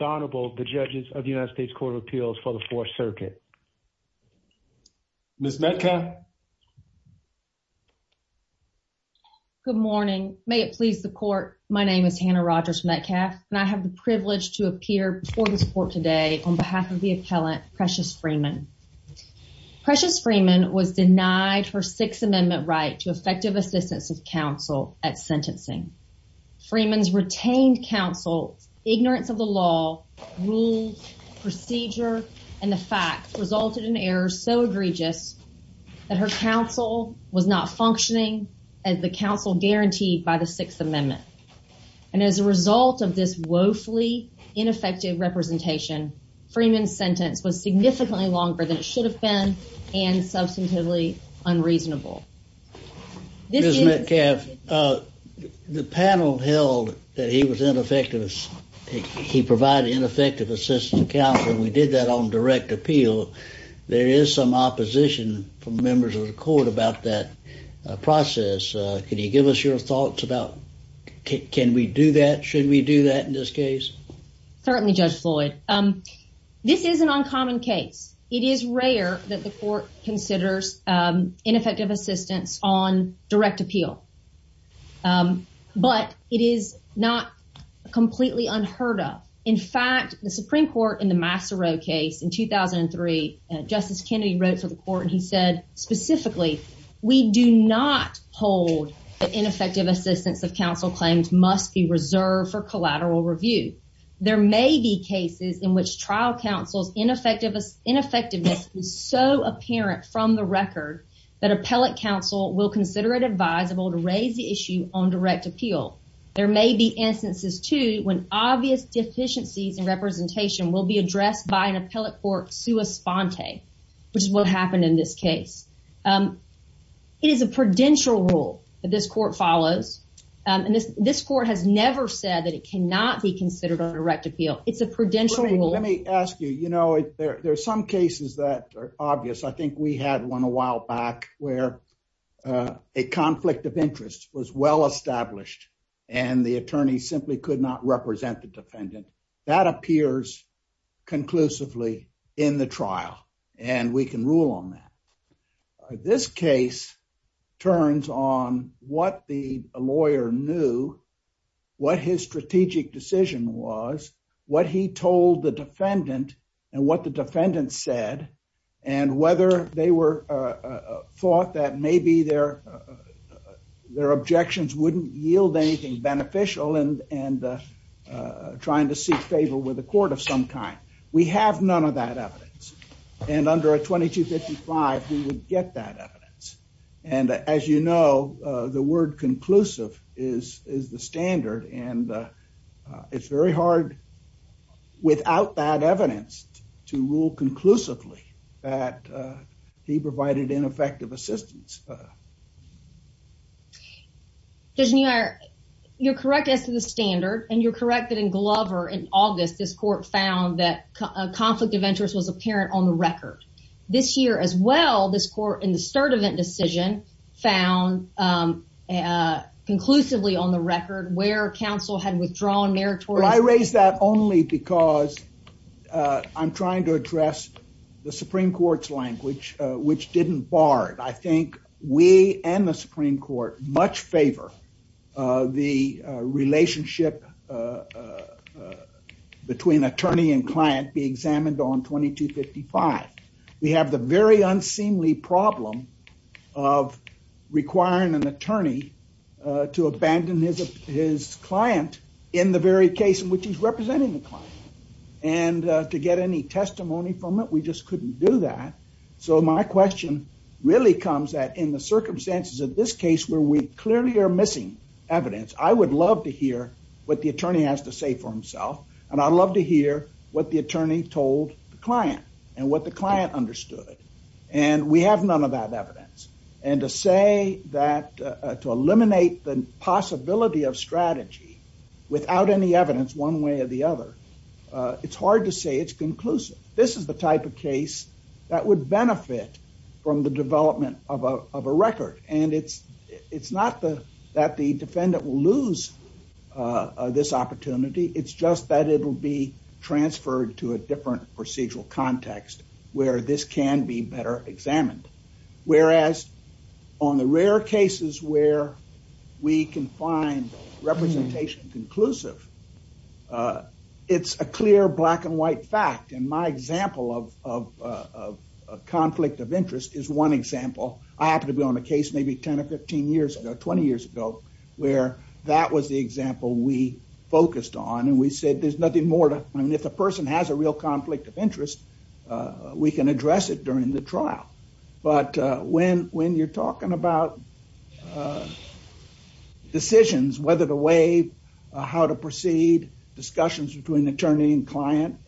Honorable, the judges of the United States Court of Appeals for the Fourth Circuit. Ms. Metcalf. Good morning. May it please the court, my name is Hannah Rogers-Metcalf and I have the privilege to appear before the court today on behalf of the appellant Precias Freeman. Precias Freeman was denied her Sixth Amendment right to effective assistance of counsel at sentencing. Freeman's counsel's ignorance of the law, rules, procedure, and the facts resulted in errors so egregious that her counsel was not functioning as the counsel guaranteed by the Sixth Amendment. And as a result of this woefully ineffective representation, Freeman's sentence was significantly longer than it should have been and substantively unreasonable. Ms. Metcalf, the panel held that he was ineffective. He provided ineffective assistance of counsel. We did that on direct appeal. There is some opposition from members of the court about that process. Could you give us your thoughts about can we do that? Should we do that in this case? Certainly, Judge Floyd. This is an uncommon case. It is rare that the court considers ineffective assistance on direct appeal. But it is not completely unheard of. In fact, the Supreme Court in the Master Row case in 2003, Justice Kennedy wrote to the court and he said specifically, we do not hold that ineffective assistance of counsel claims must be reserved for collateral review. There may be cases in which trial counsel's ineffectiveness is so apparent from the record that appellate counsel will consider it advisable to raise the issue on direct appeal. There may be instances, too, when obvious deficiencies in representation will be addressed by an appellate court sua sponte, which is what happened in this case. It is a prudential rule that this court follows. And this court has never said that it cannot be considered on direct appeal. It's a prudential rule. Let me ask you, you know, there are some cases that are obvious. I think we had one a while back where a conflict of interest was well established and the attorney simply could not represent the defendant. That appears conclusively in the trial. And we can rule on that. This case turns on what the lawyer knew, what his strategic decision was, what he they were thought that maybe their objections wouldn't yield anything beneficial and trying to see fatal with a court of some kind. We have none of that evidence. And under a 2255, we would get that evidence. And as you know, the word conclusive is the standard and it's very hard without that fee-provided ineffective assistance. Disney, you're correct as to the standard and you're correct that in Glover in August, this court found that a conflict of interest was apparent on the record. This year as well, this court in the cert event decision found conclusively on the record where counsel had which didn't bar it. I think we and the Supreme Court much favor the relationship between attorney and client be examined on 2255. We have the very unseemly problem of requiring an attorney to abandon his client in the very case in which he's representing the so my question really comes that in the circumstances of this case where we clearly are missing evidence, I would love to hear what the attorney has to say for himself and I'd love to hear what the attorney told the client and what the client understood. And we have none of that evidence. And to say that to eliminate the possibility of strategy without any evidence one way or the other, it's hard to say it's conclusive. This is the type of that would benefit from the development of a record. And it's not that the defendant will lose this opportunity. It's just that it will be transferred to a different procedural context where this can be better examined. Whereas on the rare cases where we can find representation conclusive, it's a clear black and white fact. And my example of conflict of interest is one example. I happen to be on a case maybe 10 or 15 years ago, 20 years ago, where that was the example we focused on. And we said there's nothing more to if a person has a real conflict of interest, we can address it during the trial. But when you're talking about decisions, whether the how to proceed, discussions between attorney and client,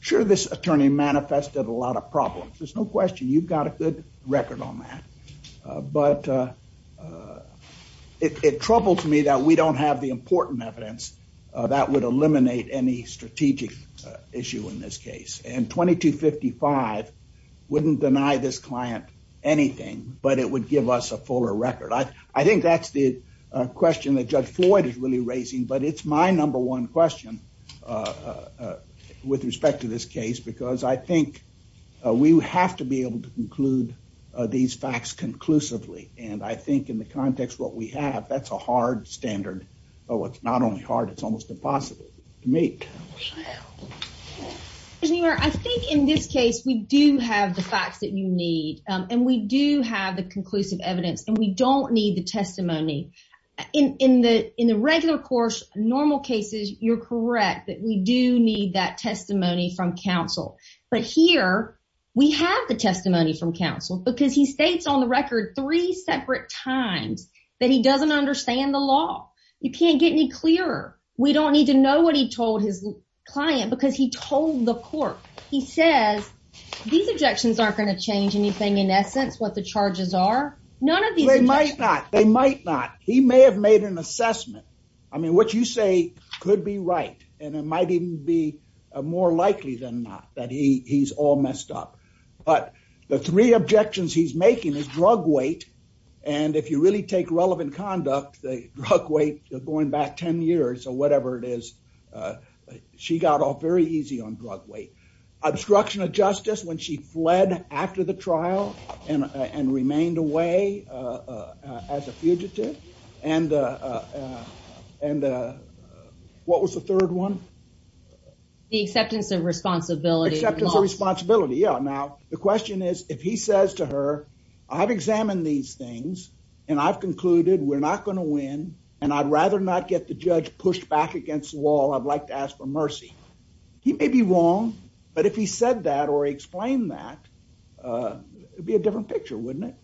sure this attorney manifested a lot of problems. There's no question you've got a good record on that. But it troubles me that we don't have the important evidence that would eliminate any strategic issue in this case. And 2255 wouldn't deny this client anything, but it would give us a fuller record. I think that's the question that Judge Floyd is really raising, but it's my number one question with respect to this case, because I think we have to be able to conclude these facts conclusively. And I think in the context of what we have, that's a hard standard. It's not only hard, it's almost impossible to make. I think in this case, we do have the facts that you need, and we do have the conclusive evidence, and we don't need the testimony. In the regular course, normal cases, you're correct that we do need that testimony from counsel. But here, we have the testimony from counsel, because he states on the record three separate times that he doesn't understand the law. You can't get any clearer. We don't need to know what he told his client, because he told the court. He says these aren't going to change anything in essence, what the charges are. None of these. They might not. They might not. He may have made an assessment. I mean, what you say could be right, and it might even be more likely than not that he's all messed up. But the three objections he's making is drug weight, and if you really take relevant conduct, the drug weights are going back 10 years or whatever it is. She got off very easy on drug weight. Obstruction of justice when she fled after the trial and remained away as a fugitive, and what was the third one? The acceptance of responsibility. Acceptance of responsibility, yeah. Now, the question is, if he says to her, I've examined these things, and I've concluded we're not going to win, and I'd rather not get the judge pushed back against the wall, I'd like to ask for mercy. He may be wrong, but if he said that or he explained that, it would be a different picture, wouldn't it?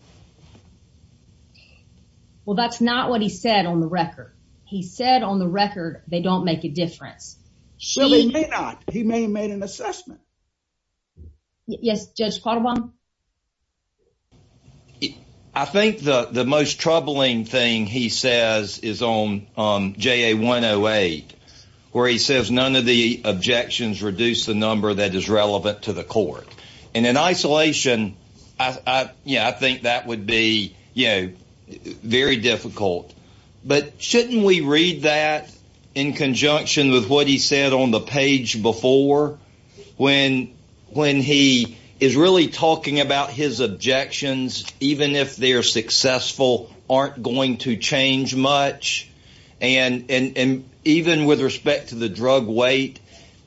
Well, that's not what he said on the record. He said on the record they don't make a difference. Well, he may not. He may have made an assessment. Yes, Judge Quattlebaum? I think the most troubling thing he says is on JA-108, where he says none of the objections reduce the number that is relevant to the court. And in isolation, yeah, I think that would be, you know, very difficult. But shouldn't we read that in conjunction with what he said on the page before, when he is really talking about his objections, even if they're successful, aren't going to change much? And even with respect to the drug weight,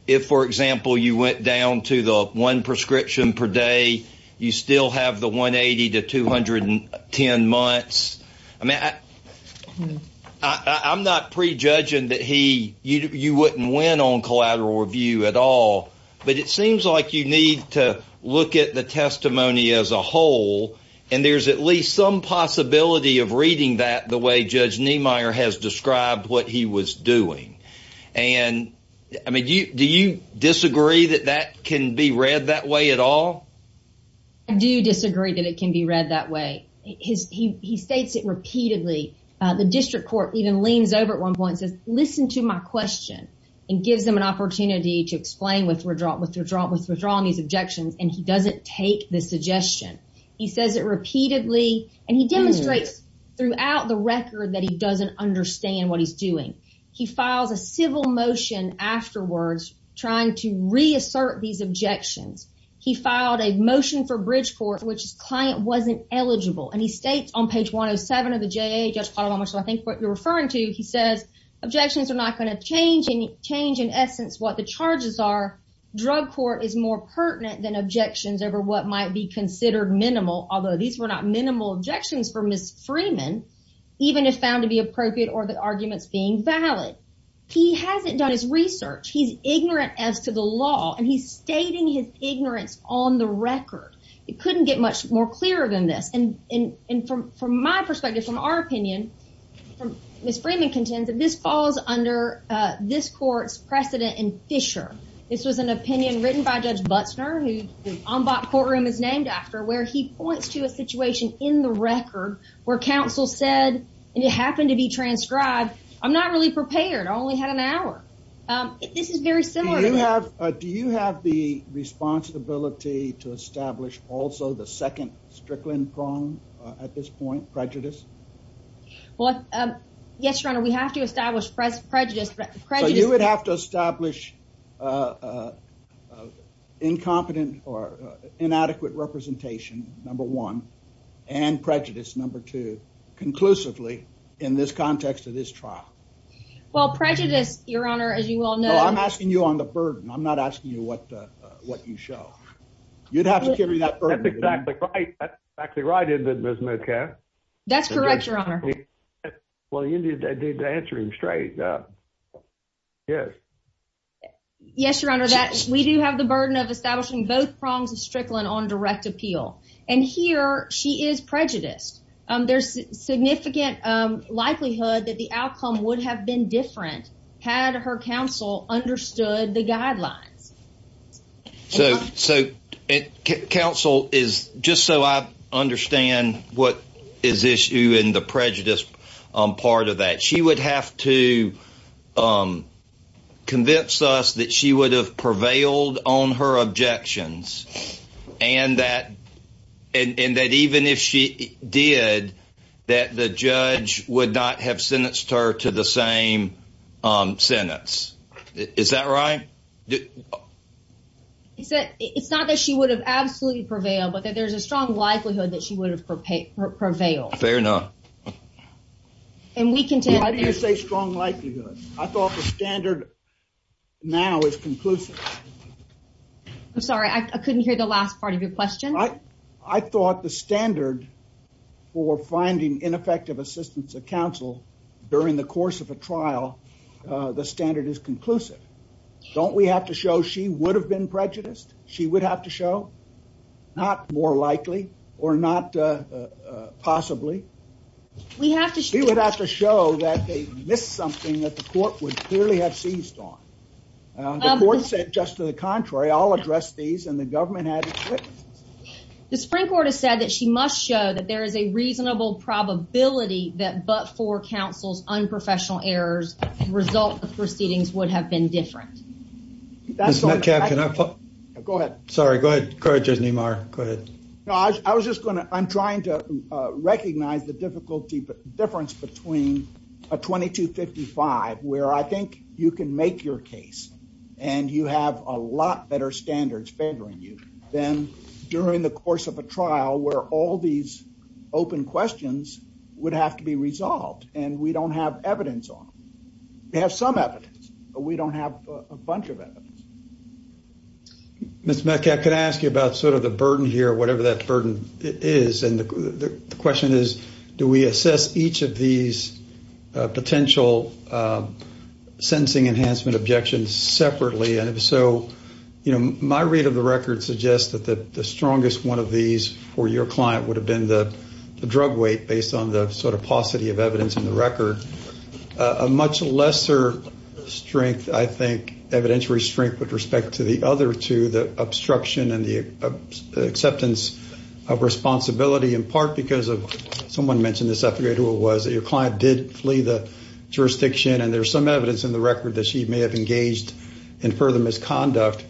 if, for example, you went down to the one prescription per day, you still have the 180 to 210 months. I mean, I'm not prejudging that he, you wouldn't win on collateral review at all, but it seems like you need to look at the testimony as a whole, and there's at least some possibility of reading that the way Judge Niemeyer has described what he was doing. And I mean, do you disagree that that can be read that way at all? I do disagree that it can be read that way. He states it repeatedly. The district court even leans over at one point and says, listen to my question, and gives them an opportunity to explain what's withdrawing these objections, and he doesn't take the suggestion. He says it repeatedly, and he demonstrates throughout the record that he doesn't understand what he's doing. He filed a civil motion afterwards, trying to reassert these objections. He filed a motion for Bridgeport, which his client wasn't eligible, and he states on page 107 of the JA, I think what you're referring to, he says, objections are not going to change, and change in essence what the charges are. Drug court is more pertinent than objections over what might be considered minimal, although these were not minimal objections from Ms. Freeman, even if found to be appropriate or the arguments being valid. He hasn't done his research. He's ignorant as to the law, and he's stating his ignorance on the record. He couldn't get much more clear than this, and from my perspective, from our opinion, Ms. Freeman contends that this falls under this court's precedent and fissure. This was an opinion written by Judge Butzner, whose ombud courtroom is named after, where he points to a situation in the record where counsel said, and it happened to be transcribed, I'm not really prepared. I only had an hour. This is very similar. Do you have the responsibility to establish also the second strickland prong at this point, prejudice? Well, yes, your honor, we have to establish prejudice. You would have to establish incompetent or inadequate representation, number one, and prejudice, number two, conclusively in this context of this trial. Well, prejudice, your honor, as you all know. Well, I'm asking you on the burden. I'm not asking you what you show. You'd have to give me that burden. That's exactly right, isn't it, Ms. McCaff? That's correct, your honor. Well, you need to answer him straight. Yes. Yes, your honor, we do have the burden of establishing both prongs of strickland on direct appeal, and here she is prejudiced. There's significant likelihood that the outcome would have been different had her counsel understood the guidelines. So, counsel, just so I understand what is issue in the prejudice part of that, she would have to convince us that she would have prevailed on her objections, and that even if she did, that the judge would not have sentenced her to the same sentence. Is that right? It's not that she would have absolutely prevailed, but that there's a strong likelihood that she would have prevailed. Fair enough. Why do you say strong likelihood? I thought the standard now is conclusive. I'm sorry, I couldn't hear the last part of your question. I thought the standard for finding ineffective assistance of counsel during the course of a trial, the standard is conclusive. Don't we have to show she would have been prejudiced? She would have to show? Not more likely or not possibly. We have to show that they missed something that the court would clearly have seized on. The court said just to the contrary, I'll address these, and the government had it that but for counsel's unprofessional errors, the results of the proceedings would have been different. Go ahead. I'm trying to recognize the difference between a 2255 where I think you can make your case and you have a lot better standards favoring you than during the course of a trial where all these open questions would have to be resolved, and we don't have evidence on them. We have some evidence, but we don't have a bunch of evidence. Ms. Metcalfe, can I ask you about sort of the burden here, whatever that burden is, and the question is, do we assess each of these potential sentencing enhancement objections separately, and if so, my read of the record suggests that the strongest one of these for your client would have been the drug weight based on the sort of paucity of evidence in the record. A much lesser strength, I think, evidentiary strength with respect to the other two, the obstruction and the acceptance of responsibility in part because of, someone mentioned this, I forget who it was, that your client did flee the jurisdiction, and there's some evidence in the record that she may have engaged in further misconduct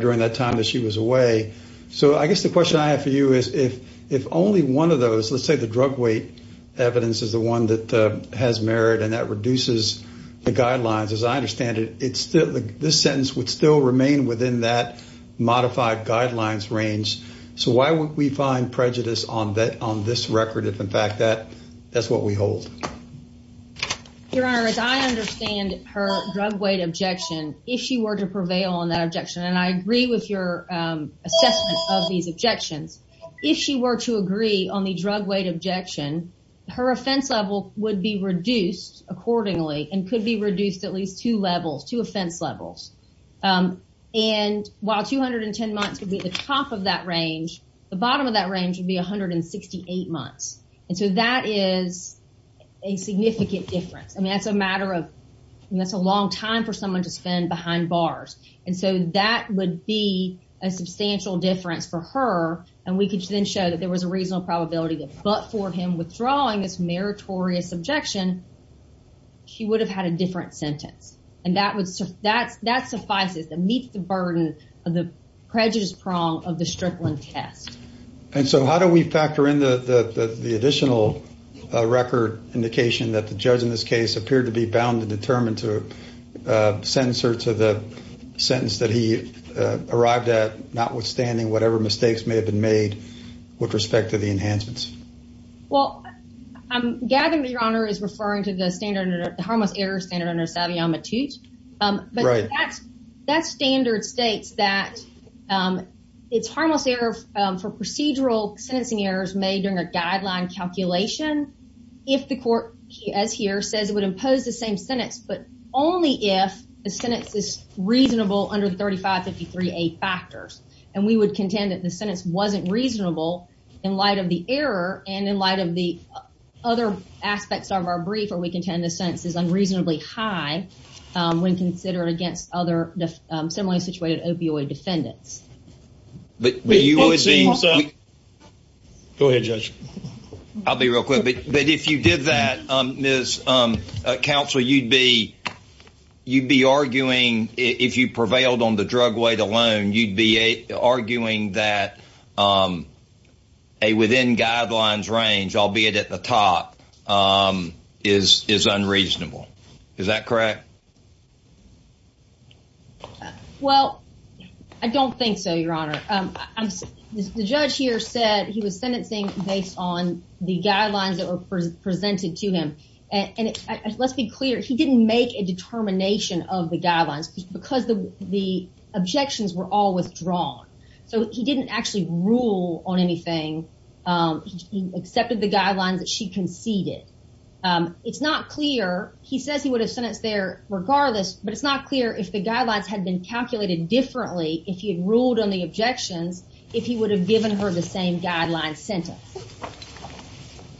during that time that she was away, so I guess the question I have for you is if only one of those, let's say the drug weight evidence is the one that has merit and that reduces the guidelines, as I understand it, this sentence would still remain within that modified guidelines range, so why would we find prejudice on this record if in fact that's what we hold? Your Honor, as I understand her drug weight objection, if she were to prevail on that objection, and I agree with your assessment of these objections, if she were to agree on the drug weight objection, her offense level would be reduced accordingly and could be reduced at least two levels, two offense levels, and while 210 months would be at the top of that range, the bottom of that range would be 168 months, and so that is a significant difference. I mean, that's a matter of, that's a long time for someone to spend behind bars, and so that would be a substantial difference for her, and we could then show that there was a reasonable probability that but for him withdrawing this meritorious objection, she would have had a different sentence, and that would, that suffices and meets the burden of the prejudice prong of the stripling test. And so how do we factor in the additional record indication that the judge in this case appeared to be bound and determined to sentence her to the sentence that he arrived at, notwithstanding whatever mistakes may have been made with respect to the enhancements? Well, Gavin, your honor, is referring to the standard, the harmless error standard under Savion Matute, but that standard states that it's harmless error for procedural sentencing errors made in a guideline calculation if the court, as here, says it would impose the same sentence, but only if the sentence is reasonable under 3553A factors, and we would contend that the sentence wasn't reasonable in light of the error and in light of the other aspects of our brief, where we contend the sentence is unreasonably high when considered against other similarly situated opioid defendants. Go ahead, Judge. I'll be real quick, but if you did that, Ms. Counsel, you'd be arguing, if you prevailed on the drug weight alone, you'd be arguing that a within guidelines range, albeit at the top, is unreasonable. Is that correct? Well, I don't think so, your honor. The judge here said he was sentencing based on the guidelines that were presented to him, and let's be clear, he didn't make a determination of the guidelines because the objections were all withdrawn, so he didn't actually rule on anything. He accepted the guidelines that she conceded. It's not clear, he says he would have sent it there regardless, but it's not clear if the guidelines had been calculated differently if he had ruled on the objections if he would have given her the same guideline sentence.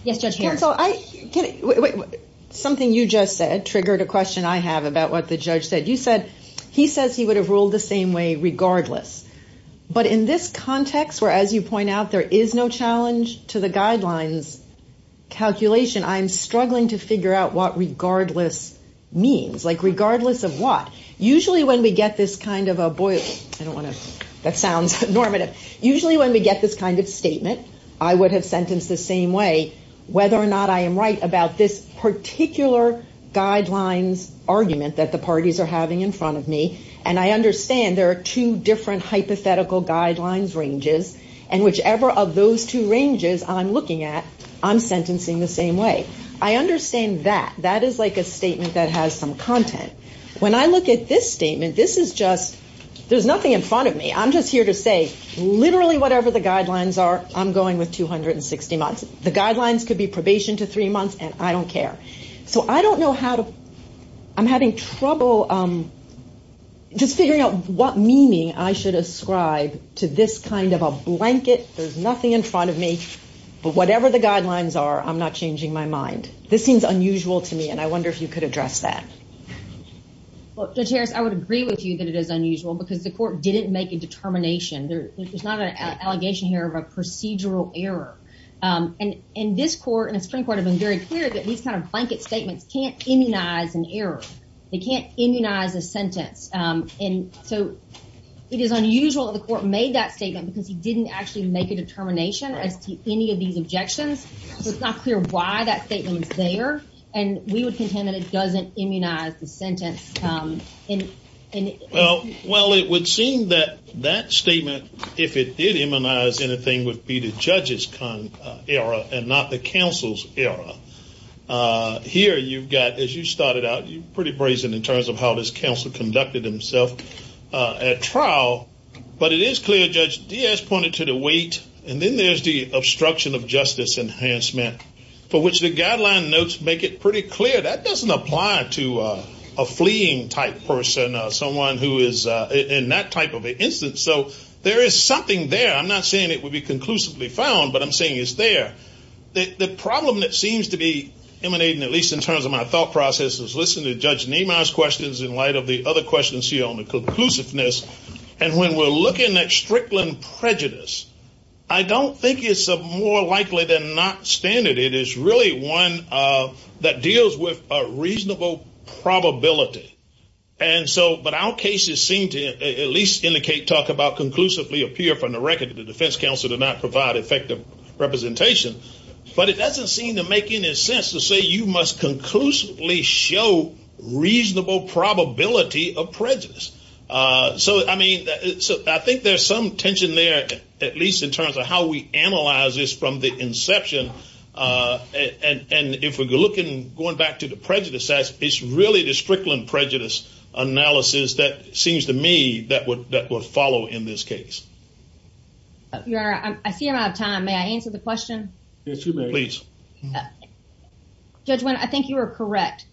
Yes, Judge Harris. So, something you just said triggered a question I have about what the judge said. You said he says he would have ruled the same way regardless, but in this context where, as you point out, there is no challenge to the guidelines calculation, I'm struggling to figure out what regardless means, like regardless of what. Usually, when we get this kind of a, boy, I don't want to sound normative. Usually, when we get this kind of statement, I would have sentenced the same way whether or not I am right about this particular guideline argument that the parties are having in front of me, and I understand there are two different hypothetical guidelines ranges, and whichever of those two ranges I'm looking at, I'm sentencing the same way. I understand that. That is like a statement that has some content. When I look at this statement, this is just, there's nothing in front of me. I'm just here to say literally whatever the guidelines are, I'm going with 260 months. The guidelines could be probation to three months, and I don't care. So, I don't know how to, I'm having trouble just figuring out what meaning I should ascribe to this kind of a blanket. There's nothing in front of me, but whatever the guidelines are, I'm not changing my mind. This seems unusual to me, and I wonder if you could address that. Well, Judge Harris, I would agree with you that it is unusual because the court didn't make a determination. There's not an allegation here of a procedural error, and this court and the Supreme Court have been very clear that these kind of blanket statements can't immunize an error. They can't immunize a sentence, and so it is unusual that the court made that statement because he didn't actually make a determination as to any of these objections. It's not clear why that statement was there, and we would think, then, that it doesn't immunize the sentence. Well, it would seem that that statement, if it did immunize anything, would be the judge's error and not the counsel's error. Here, you've got, as you started out, you're pretty brazen in terms of how this counsel conducted himself at trial, but it is clear, Judge Diaz pointed to the weight, and then there's the obstruction of justice enhancement, for which the guideline notes make it pretty clear. That doesn't apply to a fleeing-type person, someone who is in that type of an instance, so there is something there. I'm not saying it would be conclusively found, but I'm saying it's there. The problem that seems to be emanating, at least in terms of my thought process, is listen to Judge Nemar's questions in light of the other questions here on the conclusiveness, and when we're looking at Strickland prejudice, I don't think it's more likely than not it is really one that deals with a reasonable probability, but our cases seem to at least indicate, talk about, conclusively appear from the record that the defense counsel did not provide effective representation, but it doesn't seem to make any sense to say you must conclusively show reasonable probability of prejudice. I think there's some tension there, at least in terms of how we analyze this from the inception, and if we're looking and going back to the prejudice test, it's really the Strickland prejudice analysis that seems to me that would follow in this case. I see we're out of time. May I answer the question? Yes, you may. Please. Judge, I think you were correct.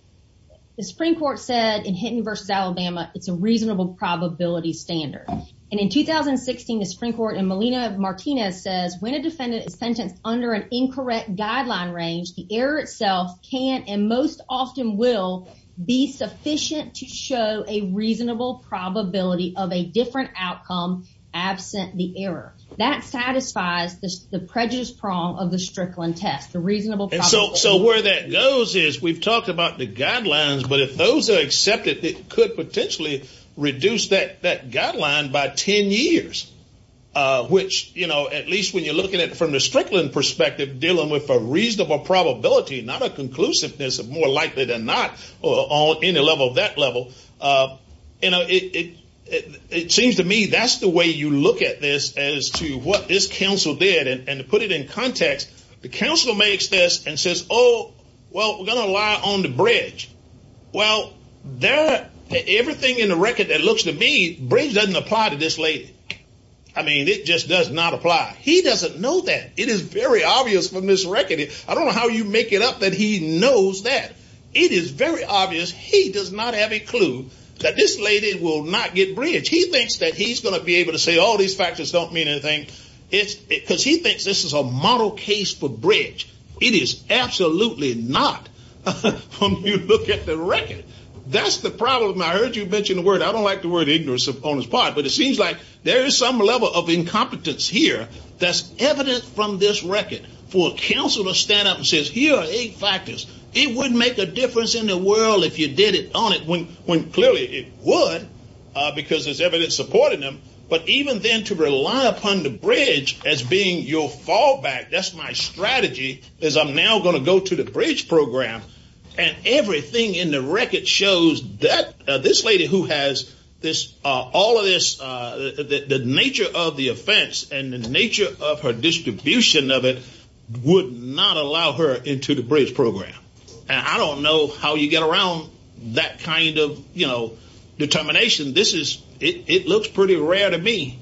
The Supreme Court said in Hinton v. Alabama, it's a reasonable probability standard, and in 2016, the Supreme Court in Molina v. Martinez says when a defendant is sentenced under an incorrect guideline range, the error itself can and most often will be sufficient to show a reasonable probability of a different outcome absent the error. That satisfies the prejudice prong of the Strickland test, the reasonable probability. And so where that goes is we've talked about the guidelines, but if those are accepted, it could potentially reduce that guideline by 10 years, which at least when you're looking at it from the Strickland perspective, dealing with a reasonable probability, not a conclusiveness, more likely than not on any level of that level. It seems to me that's the way you look at this as to what this counsel did, and to put it in context, the counsel makes this and says, well, we're going to rely on the bridge. Well, everything in the record that looks to me, bridge doesn't apply to this lady. I mean, it just does not apply. He doesn't know that. It is very obvious from this record. I don't know how you make it up that he knows that. It is very obvious he does not have a clue that this lady will not get bridged. He thinks that he's going to be able to say all these factors don't mean anything, because he thinks this is a model case for bridge. It is absolutely not when you look at the record. That's the problem. I heard you mention the word. I don't like the word ignorance on his part, but it seems like there is some level of incompetence here that's evident from this record for a counselor to stand up and say, here are eight factors. It wouldn't make a difference in the world if you did it on it when clearly it would, because there's evidence supporting them, but even then to rely upon the strategy is I'm now going to go to the bridge program and everything in the record shows that this lady who has all of this, the nature of the offense and the nature of her distribution of it would not allow her into the bridge program. I don't know how you get around that kind of determination. It looks pretty rare to me,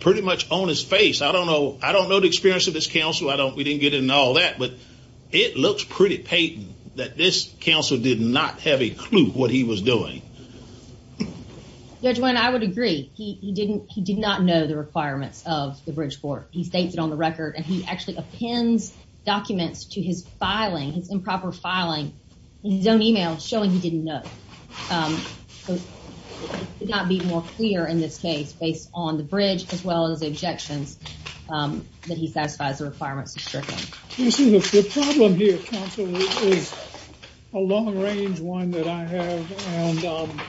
pretty much on his face. I don't know the experience of this counselor. We didn't get into all that, but it looks pretty patent that this counselor did not have a clue what he was doing. Judge, I would agree. He did not know the requirement of the bridge court. He states it on the record and he actually appends documents to his filing, improper filing, and he's done email showing he didn't know. It would not be more in this case based on the bridge as well as the objections that he satisfies the requirement. This is a good problem here, counselor. It's a long range one that I have and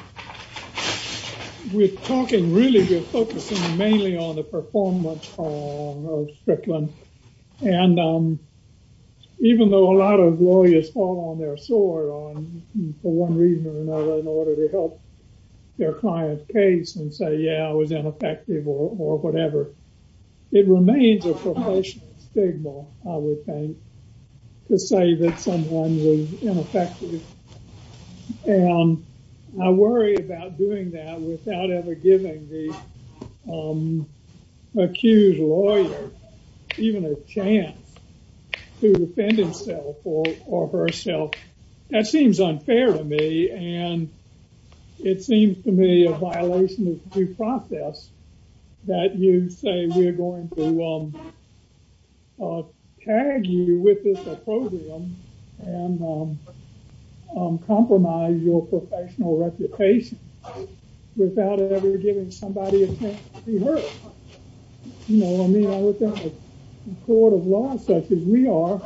we've talked and really been focusing mainly on the performance of Strickland and even though a lot of lawyers fall on their sword on for one reason or another in order to help their client's was ineffective or whatever, it remains a professional stigma, I would think, to say that someone was ineffective. I worry about doing that without ever giving the accused lawyer even a chance to defend himself or herself. That seems unfair to me and it seems to me a violation of due process that you say we're going to tag you with this opposium and compromise your professional reputation without ever giving somebody a chance to be heard. You know what I mean? I would think the court of law, such as we are,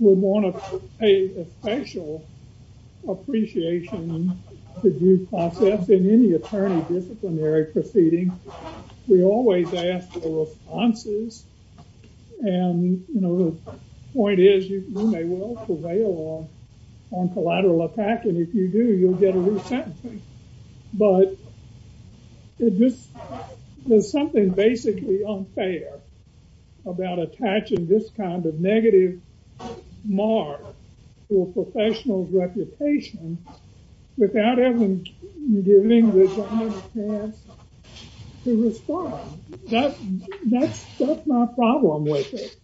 would want to pay a special appreciation to due process in any attorney disciplinary proceeding. We always ask for responses and, you know, the point is you may walk away on collateral attachment. If you do, you'll get a resentment, but there's something basically unfair about attaching this kind of negative mark to a professional's reputation without ever giving them a chance to respond. That's my problem with it.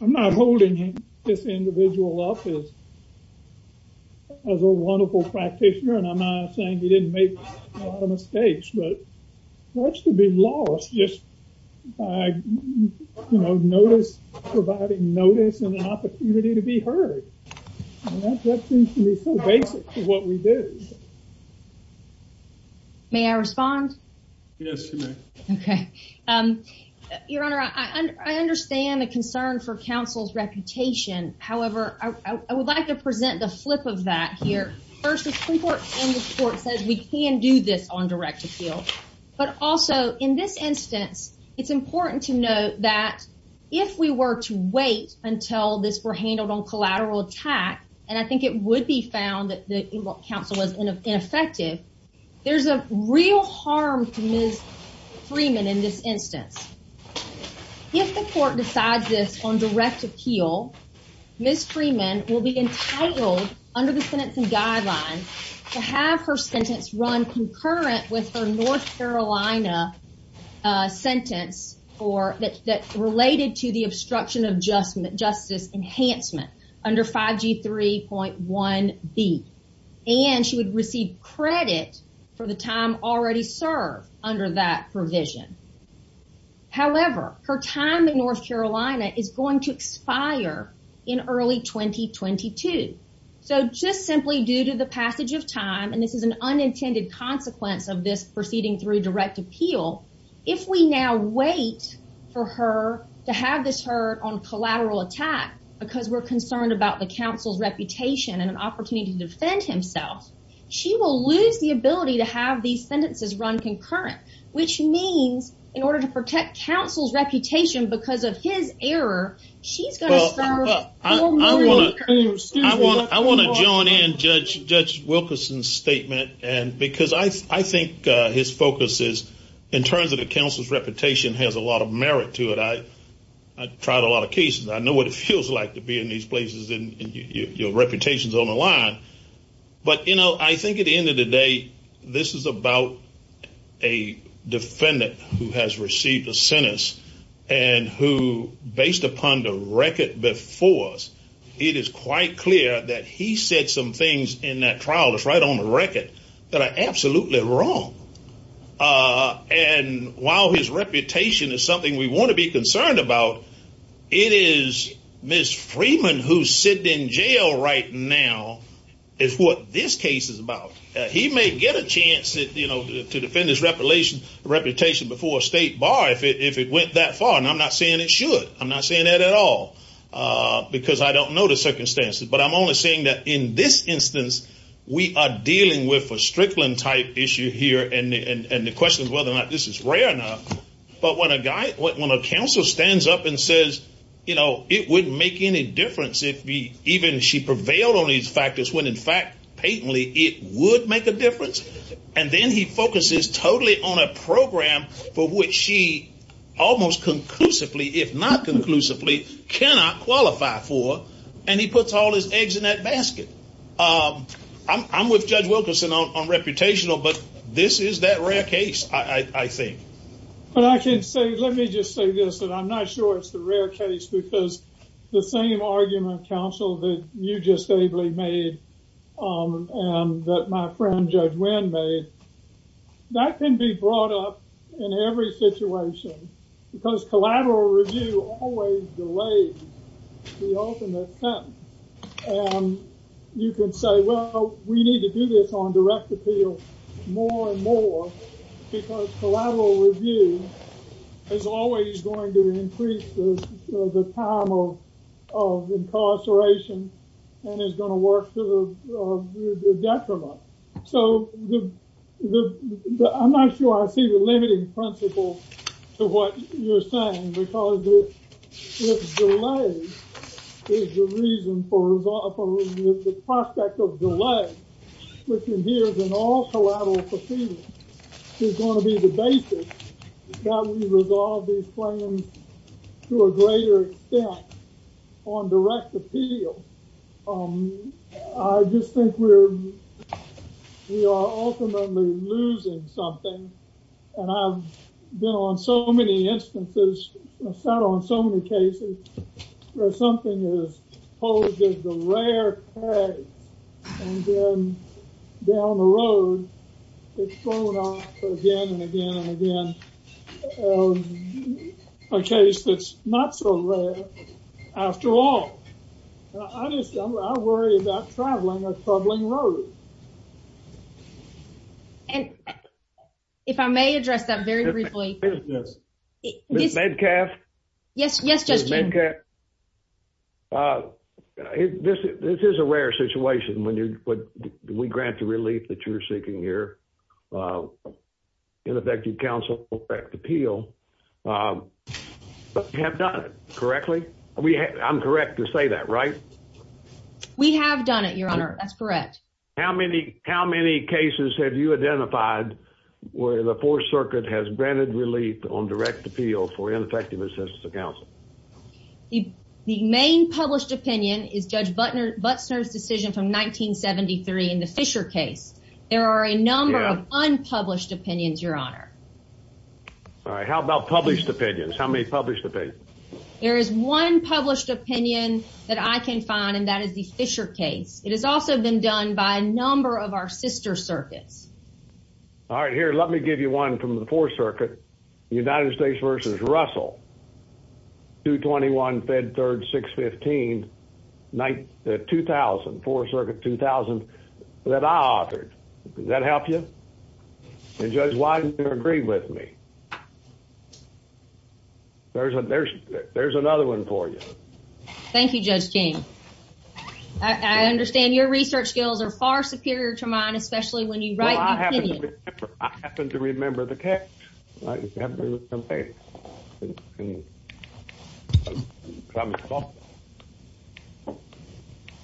I'm not holding this individual up as a wonderful practitioner and I'm not saying he didn't make a lot of mistakes, but that's to be lost just by providing notice and an opportunity to be heard. That seems to me so basic to what we do. May I respond? Yes, you may. Okay. Your Honor, I understand the concern for counsel's reputation, however, I would like to present the flip of that here. First, the Supreme Court's on direct appeal, but also in this instance, it's important to note that if we were to wait until this were handled on collateral attack, and I think it would be found that the counsel was ineffective, there's a real harm to Ms. Freeman in this instance. If the court decides this on direct appeal, Ms. Freeman will be entitled under the sentencing guidelines to have her sentence run concurrent with her North Carolina sentence that's related to the obstruction of justice enhancement under 5G3.1B, and she would receive credit for the time already served under that provision. However, her time in North Carolina is going to expire in early 2022. So, just simply due to the passage of time, and this is an unintended consequence of this proceeding through direct appeal, if we now wait for her to have this heard on collateral attack because we're concerned about the counsel's reputation and an opportunity to defend himself, she will lose the ability to have these sentences run concurrent, which means in order to protect counsel's reputation because of his error, she's going to have four more years to receive it. I want to join in Judge Wilkerson's statement, because I think his focus is, in terms of the counsel's reputation, has a lot of merit to it. I've tried a lot of cases. I know what it feels like to be in these places, and your reputation's on the line. But, you know, I think at the end of the day, this is about a defendant who has received a sentence, and who, based upon the record before us, it is quite clear that he said some things in that trial that's right on the record that are absolutely wrong. And while his reputation is something we want to be concerned about, it is Ms. Freeman who's sitting in jail right now is what this case is about. He may get a chance to defend his reputation before a state bar if it went that far, and I'm not saying it should. I'm not saying that at all, because I don't know the circumstances. But I'm only saying that in this instance, we are dealing with a Strickland-type issue here, and the question is whether or not this is rare enough. But when a guy, when a counsel stands up and says, you know, it wouldn't make any difference if even she prevailed on these factors, when in fact, patently, it would make a difference, and then he focuses totally on a program for which she almost conclusively, if not conclusively, cannot qualify for, and he puts all his eggs in that I think. But I can say, let me just say this, that I'm not sure it's the rare case, because the same argument, counsel, that you just ably made, and that my friend Judge Wynn made, that can be brought up in every situation, because collateral review always delays the ultimate collateral review. It's always going to increase the time of incarceration, and it's going to work to the detriment. So I'm not sure I see the limiting principle to what you're saying, because if delay is the reason for the prospect of delay, which appears in all collateral proceedings, it's going to be the basis that we resolve these claims to a greater extent on direct appeal. I just think we are ultimately losing something, and I've been on so many instances, sat on so many cases, where something is posed as a rare case, and then down the road, it's going on again and again and again, a case that's not so rare after all. I worry about traveling a troubling road. If I may address that very briefly. Ms. Metcalf? Yes, Judge. Ms. Metcalf, this is a rare situation when we grant the relief that you're seeking here, ineffective counsel on direct appeal, but we have done it, correctly? I'm correct to say that, right? We have done it, Your Honor. That's correct. How many cases have you identified where the Fourth Circuit has granted relief on direct assistance to counsel? The main published opinion is Judge Butsner's decision from 1973 in the Fisher case. There are a number of unpublished opinions, Your Honor. All right. How about published opinions? How many published opinions? There is one published opinion that I can find, and that is the Fisher case. It has also been done by a number of our sister circuits. All right. Here, let me give you one from the Fourth Circuit, United States v. Russell, 221 Fed 3rd, 615, 2000, Fourth Circuit, 2000, that I offered. Does that help you? And, Judge, why don't you agree with me? There's another one for you. Thank you, Judge King. I understand your research skills are far superior to mine, especially when you write opinions. I happen to remember the case.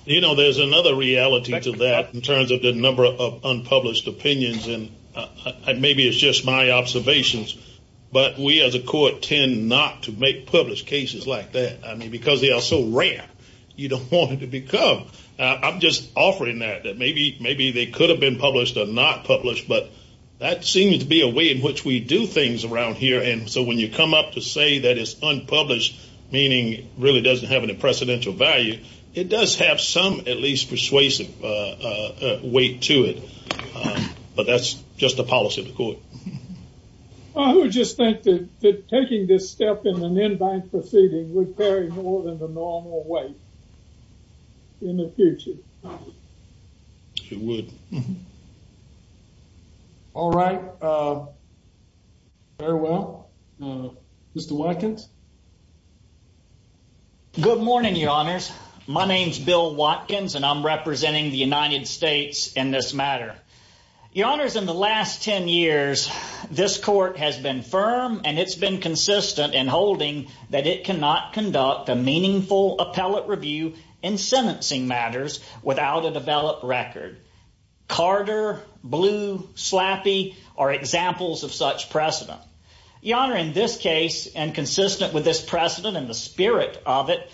You know, there's another reality to that in terms of the number of unpublished opinions, and maybe it's just my observations, but we as a court tend not to make published cases like that. I mean, because they are so rare, you don't want them to become. I'm just offering that, that maybe they could have been published or not published, but that seems to be a way in which we do things around here, and so when you come up to say that it's unpublished, meaning it really doesn't have any precedential value, it does have some, at least, persuasive weight to it, but that's just the policy of the court. I would just think that taking this step in an in-bank proceeding would vary more than the normal way in the future. It would. All right. Farewell. Mr. Watkins? Good morning, Your Honors. My name's Bill Watkins, and I'm representing the United States in this matter. Your Honors, in the last 10 years, this court has been firm, and it's been consistent in holding that it cannot conduct a meaningful appellate review in sentencing matters without a developed record. Carter, Blue, Slaffy are examples of such precedent. Your Honor, in this case, and consistent with this precedent and the spirit of it,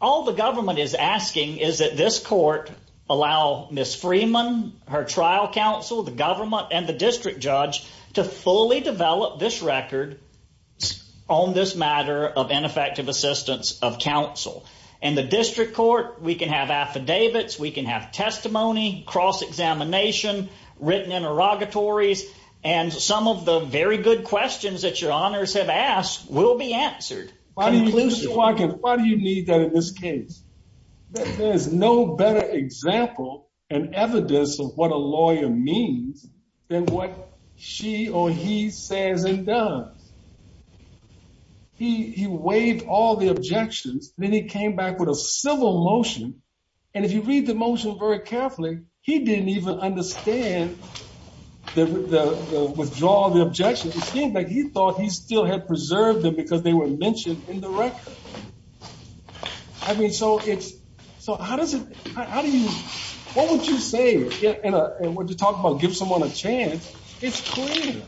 all the government is asking is that this court allow Ms. Freeman, her trial counsel, the government, and the district judge to fully develop this record on this matter of ineffective assistance of counsel. In the district court, we can have affidavits, we can have testimony, cross-examination, written interrogatories, and some of the very good questions that Your Honors have asked will be answered. Mr. Watkins, why do you need that in this case? There's no better example and evidence of what a lawyer means than what she or he says and does. He waived all the objections, then he came back with a civil motion, and if you read the motion very carefully, he didn't even understand the withdrawal of the objections. It seems like he thought he still had preserved them because they were mentioned in the record. I mean, so it's, so how does it, how do you, why don't you say, and when you talk about give someone a chance, it's clear,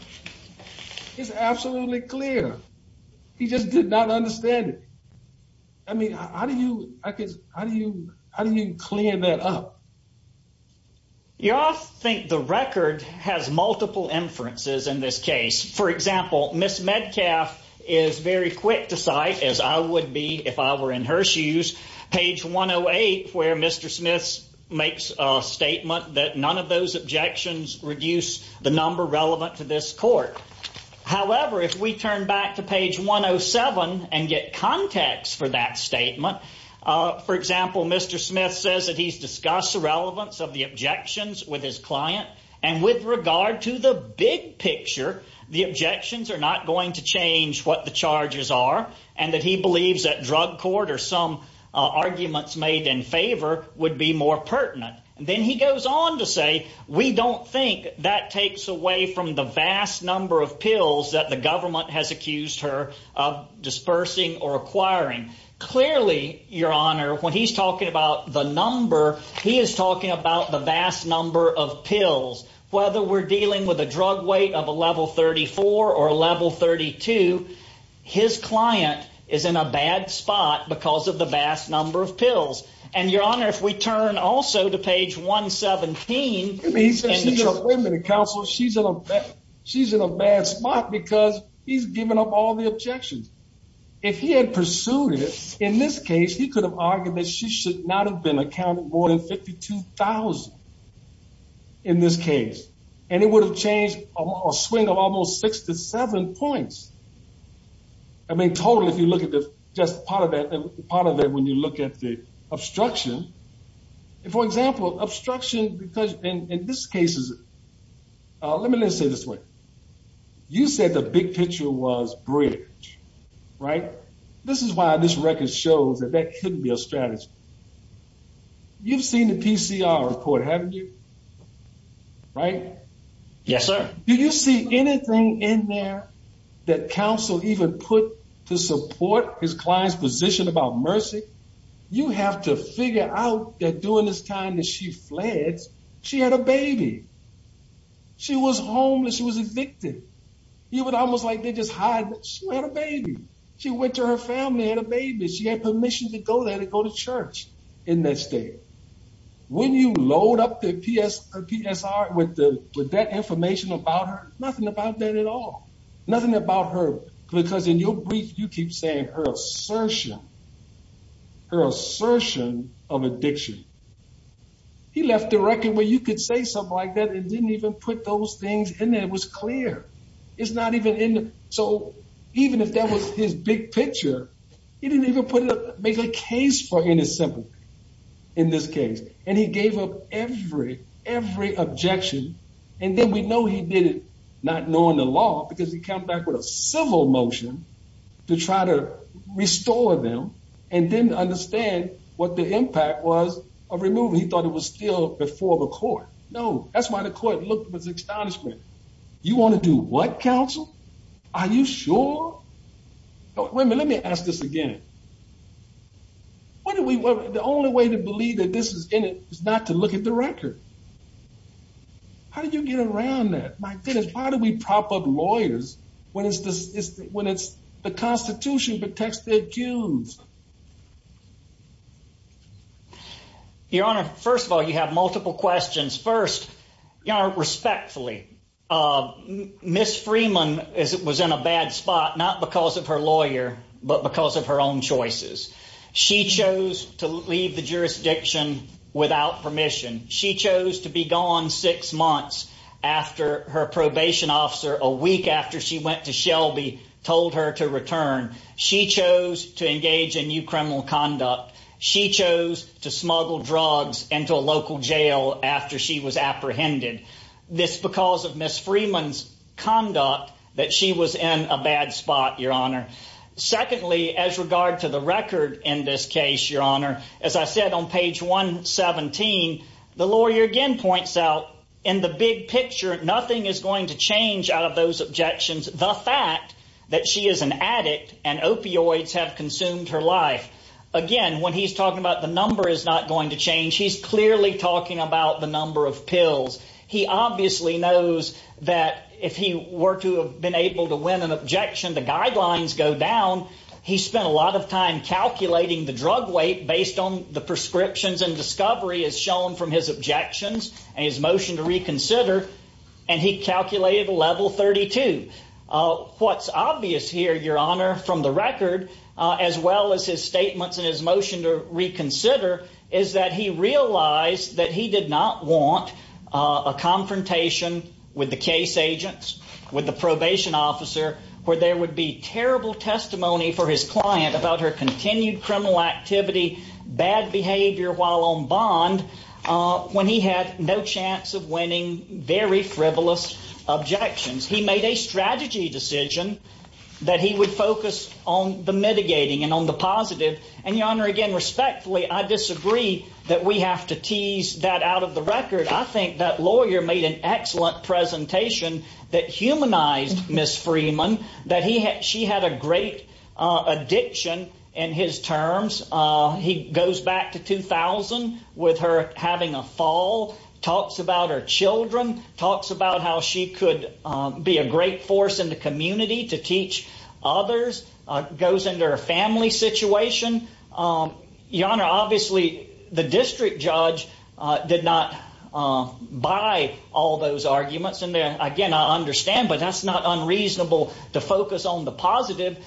it's absolutely clear. He just did not understand it. I mean, how do you, I could, how do you, how do you clear that up? You often think the record has multiple inferences in this case. For example, Ms. Medcalf is very quick to cite, as I would be if I were in her shoes, page 108 where Mr. Smith makes a statement that none of those objections reduce the number relevant to this court. However, if we turn back to page 107 and get context for that statement, for example, Mr. Smith says that he's discussed the relevance of the objections with his client, and with regard to the big picture, the objections are not going to change what the charges are, and that he believes that drug court or some arguments made in favor would be more pertinent. Then he goes on to say, we don't think that takes away from the vast number of pills that the government has accused her of dispersing or acquiring. Clearly, Your Honor, when he's talking about the number, he is talking about the vast number of pills. Whether we're dealing with a drug weight of a level 34 or a level 32, his client is in a bad spot because of the vast number of pills. Your Honor, if we turn also to page 117... He says, wait a minute, counsel, she's in a bad spot because he's given up all the objections. If he had pursued it, in this case, he could have argued that she should not have been accounted more than 52,000 in this case, and it would have changed a swing of almost six to seven points. I mean, totally, if you look at just part of that, part of that when you look at the obstruction. For example, obstruction because in this case is... Let me just say this way. You said the big picture was bridge, right? This is why this record shows that that couldn't be a strategy. You've seen the PCR report, haven't you? Right? Yes, sir. Did you see anything in there that counsel even put to support his client's position about mercy? You have to figure out that during this time that she fled, she had a baby. She was homeless. She was addicted. It was almost like they just hired... She had a baby. She went to her family and had a baby. She had permission to go there to go to church in that state. When you load up the PSR with that information about her, nothing about that at all. Nothing about her because in your brief, you keep saying her assertion, her assertion of addiction. He left the record where you could say something like that and didn't even put those things in there. It was clear. It's not even in the... So even if that was his big picture, he didn't even make a case for any sympathy in this case. And he gave up every, every objection. And then we know he did it not knowing the law because he came back with a civil motion to try to restore them and didn't understand what the impact was of removing. He thought it was still before the court. No, that's why the court looked with astonishment. You want to do what, counsel? Are you sure? Wait a minute. Let me ask this again. The only way to believe that this is in it is not to look at the record. How did you get around that? My goodness, how do we prop up lawyers when it's the constitution protects the accused? Your Honor, first of all, you have multiple questions. First, Your Honor, respectfully, Ms. Freeman was in a bad spot, not because of her lawyer, but because of her own judgment. Her own choices. She chose to leave the jurisdiction without permission. She chose to be gone six months after her probation officer, a week after she went to Shelby, told her to return. She chose to engage in new criminal conduct. She chose to smuggle drugs into a local jail after she was apprehended. That's because of Ms. Freeman's conduct that she was in a bad spot, Your Honor. Secondly, as regard to the record in this case, Your Honor, as I said on page 117, the lawyer again points out in the big picture, nothing is going to change out of those objections. The fact that she is an addict and opioids have consumed her life. Again, when he's talking about the number is not going to change, he's clearly talking about the number of pills. He obviously knows that if he were to have been able to win an objection, the guidelines go down. He spent a lot of time calculating the drug weight based on the prescriptions and discovery as shown from his objections and his motion to reconsider. And he calculated a level 32. What's obvious here, Your Honor, from the record, as well as his statements and his motion to reconsider, is that he realized that he did not want a confrontation with the case agents, with the probation officer, where there would be terrible testimony for his client about her continued criminal activity, bad behavior while on bond, when he had no chance of winning very frivolous objections. He made a strategy decision that he would focus on the mitigating and on the positive. And Your Honor, again, respectfully, I disagree that we have to tease that out of the record. I think that lawyer made an excellent presentation that humanized Ms. Freeman, that she had a great addiction in his terms. He goes back to 2000 with her having a fall, talks about her children, talks about how she could be a great force in the community to teach others, goes into her family situation. Your Honor, obviously, the district judge did not buy all those arguments. Again, I understand, but that's not unreasonable to focus on the positive,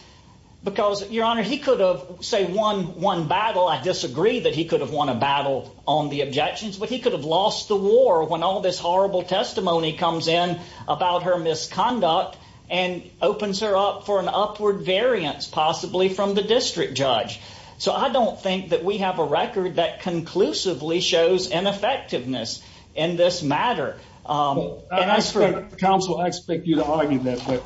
because Your Honor, he could have, say, won one battle. I disagree that he could have won a battle on the objections, but he could have lost the war when all this horrible testimony comes in about her misconduct and opens her up for an upward variance, possibly from the district judge. So I don't think that we have a record that conclusively shows ineffectiveness in this matter. I expect counsel, I expect you to argue that, but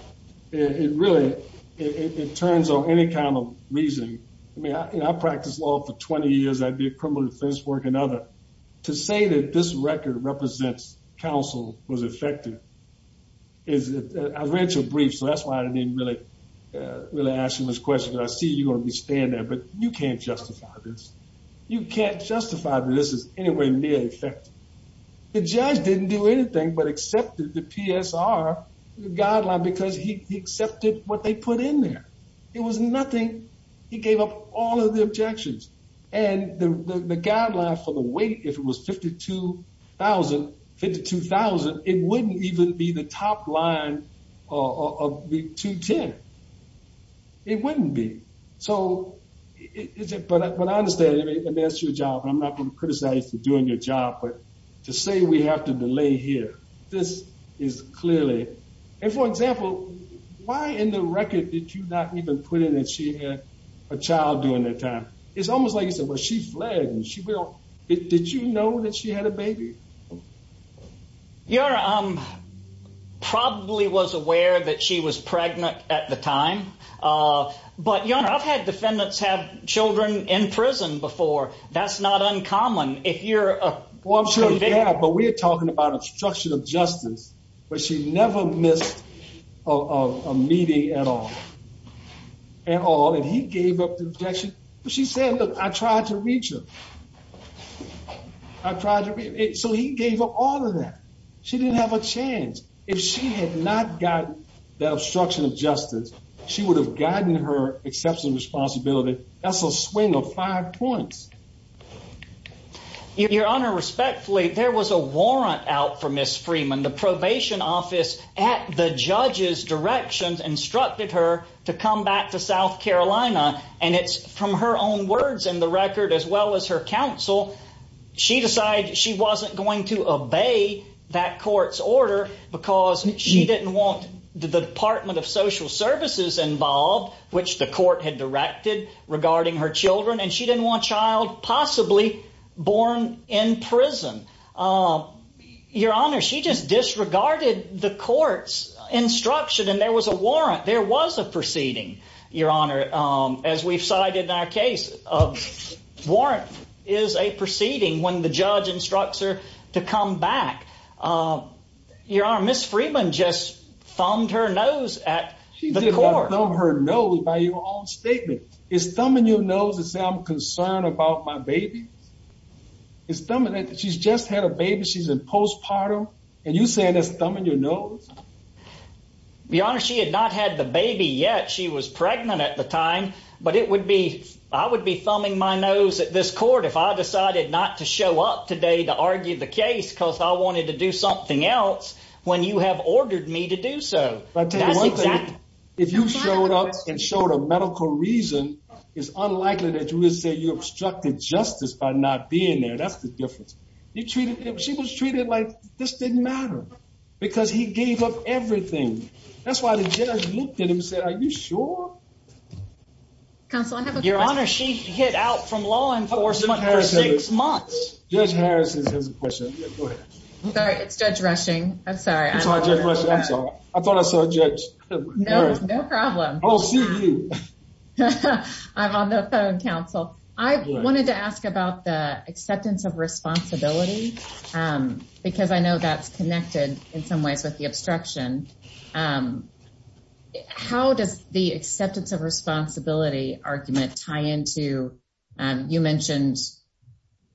it really, it turns on any kind of reasoning. I mean, I practiced law for 20 years. I did criminal defense work and other. To say that this record represents counsel was effective is, I read your brief, so that's why I didn't really ask you much question. I see you understand that, but you can't justify this. You can't justify that this is any way near effective. The judge didn't do anything but accepted the PSR guideline because he accepted what they put in there. It was nothing. He gave up all of the objections and the guideline for the weight, if it was 52,000, 52,000, it wouldn't even be the top line of the 210. It wouldn't be. So, but I understand and that's your job. I'm not gonna criticize you for doing your job, but to say we have to delay here, this is clearly, and for example, why in the record did you not even put in that she had a child during that time? It's almost like you said, well, she's black and she built, did she know that she had a baby? Your honor, I probably was aware that she was pregnant at the time, but your honor, I've had defendants have children in prison before. That's not uncommon. If you're, well, I'm sure they have, but we're talking about obstruction of justice, but she never missed a meeting at all, at all, and he gave up the objection. She said, look, I tried to reach her. I tried to, so he gave up all of that. She didn't have a chance. If she had not gotten that obstruction of justice, she would have gotten her excessive responsibility. That's a swing of five points. Your honor, respectfully, there was a warrant out for Ms. Freeman, the probation office at the judge's directions instructed her to come back to South Carolina. And it's from her own words in the record, as well as her counsel, she decided she wasn't going to obey that court's order because she didn't want the department of social services involved, which the court had directed regarding her children. And she didn't want child possibly born in prison. Your honor, she just disregarded the court's instruction. And there was a warrant, there was a proceeding, your honor, as we've cited in our case. Warrant is a proceeding when the judge instructs her to come back. Your honor, Ms. Freeman just thumbed her nose at the court. She did not thumb her nose by your own statement. Is thumbing your nose to say I'm concerned about my baby? She's just had a baby. She's in postpartum. And you say that's thumbing your nose? Your honor, she had not had the baby yet. She was pregnant at the time, but I would be thumbing my nose at this court if I decided not to show up today to argue the case because I wanted to do something else when you have ordered me to do so. But if you showed up and showed a medical reason, it's unlikely that you would say you obstructed justice by not being there. That's the difference. She was treated like this didn't matter because he gave up everything. That's why the judge looked at him and said, are you sure? Your honor, she's hit out from law enforcement for six months. Judge Harrison has a question. I'm sorry, it's Judge Rushing. I'm sorry. I'm sorry. I thought I saw a judge. No problem. I'm on the phone, counsel. I wanted to ask about the acceptance of responsibility because I know that's connected in some ways with the obstruction. How does the acceptance of responsibility argument tie into, you mentioned,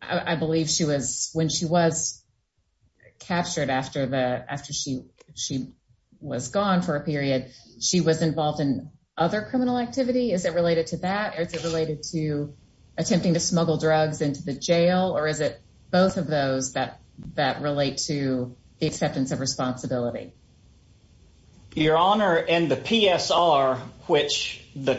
I believe she was, when she was captured after she was gone for a period, she was involved in other criminal activity. Is it related to that? Or is it related to attempting to smuggle drugs into the jail? Or is it both of those that relate to the acceptance of responsibility? Your honor, in the PSR, which the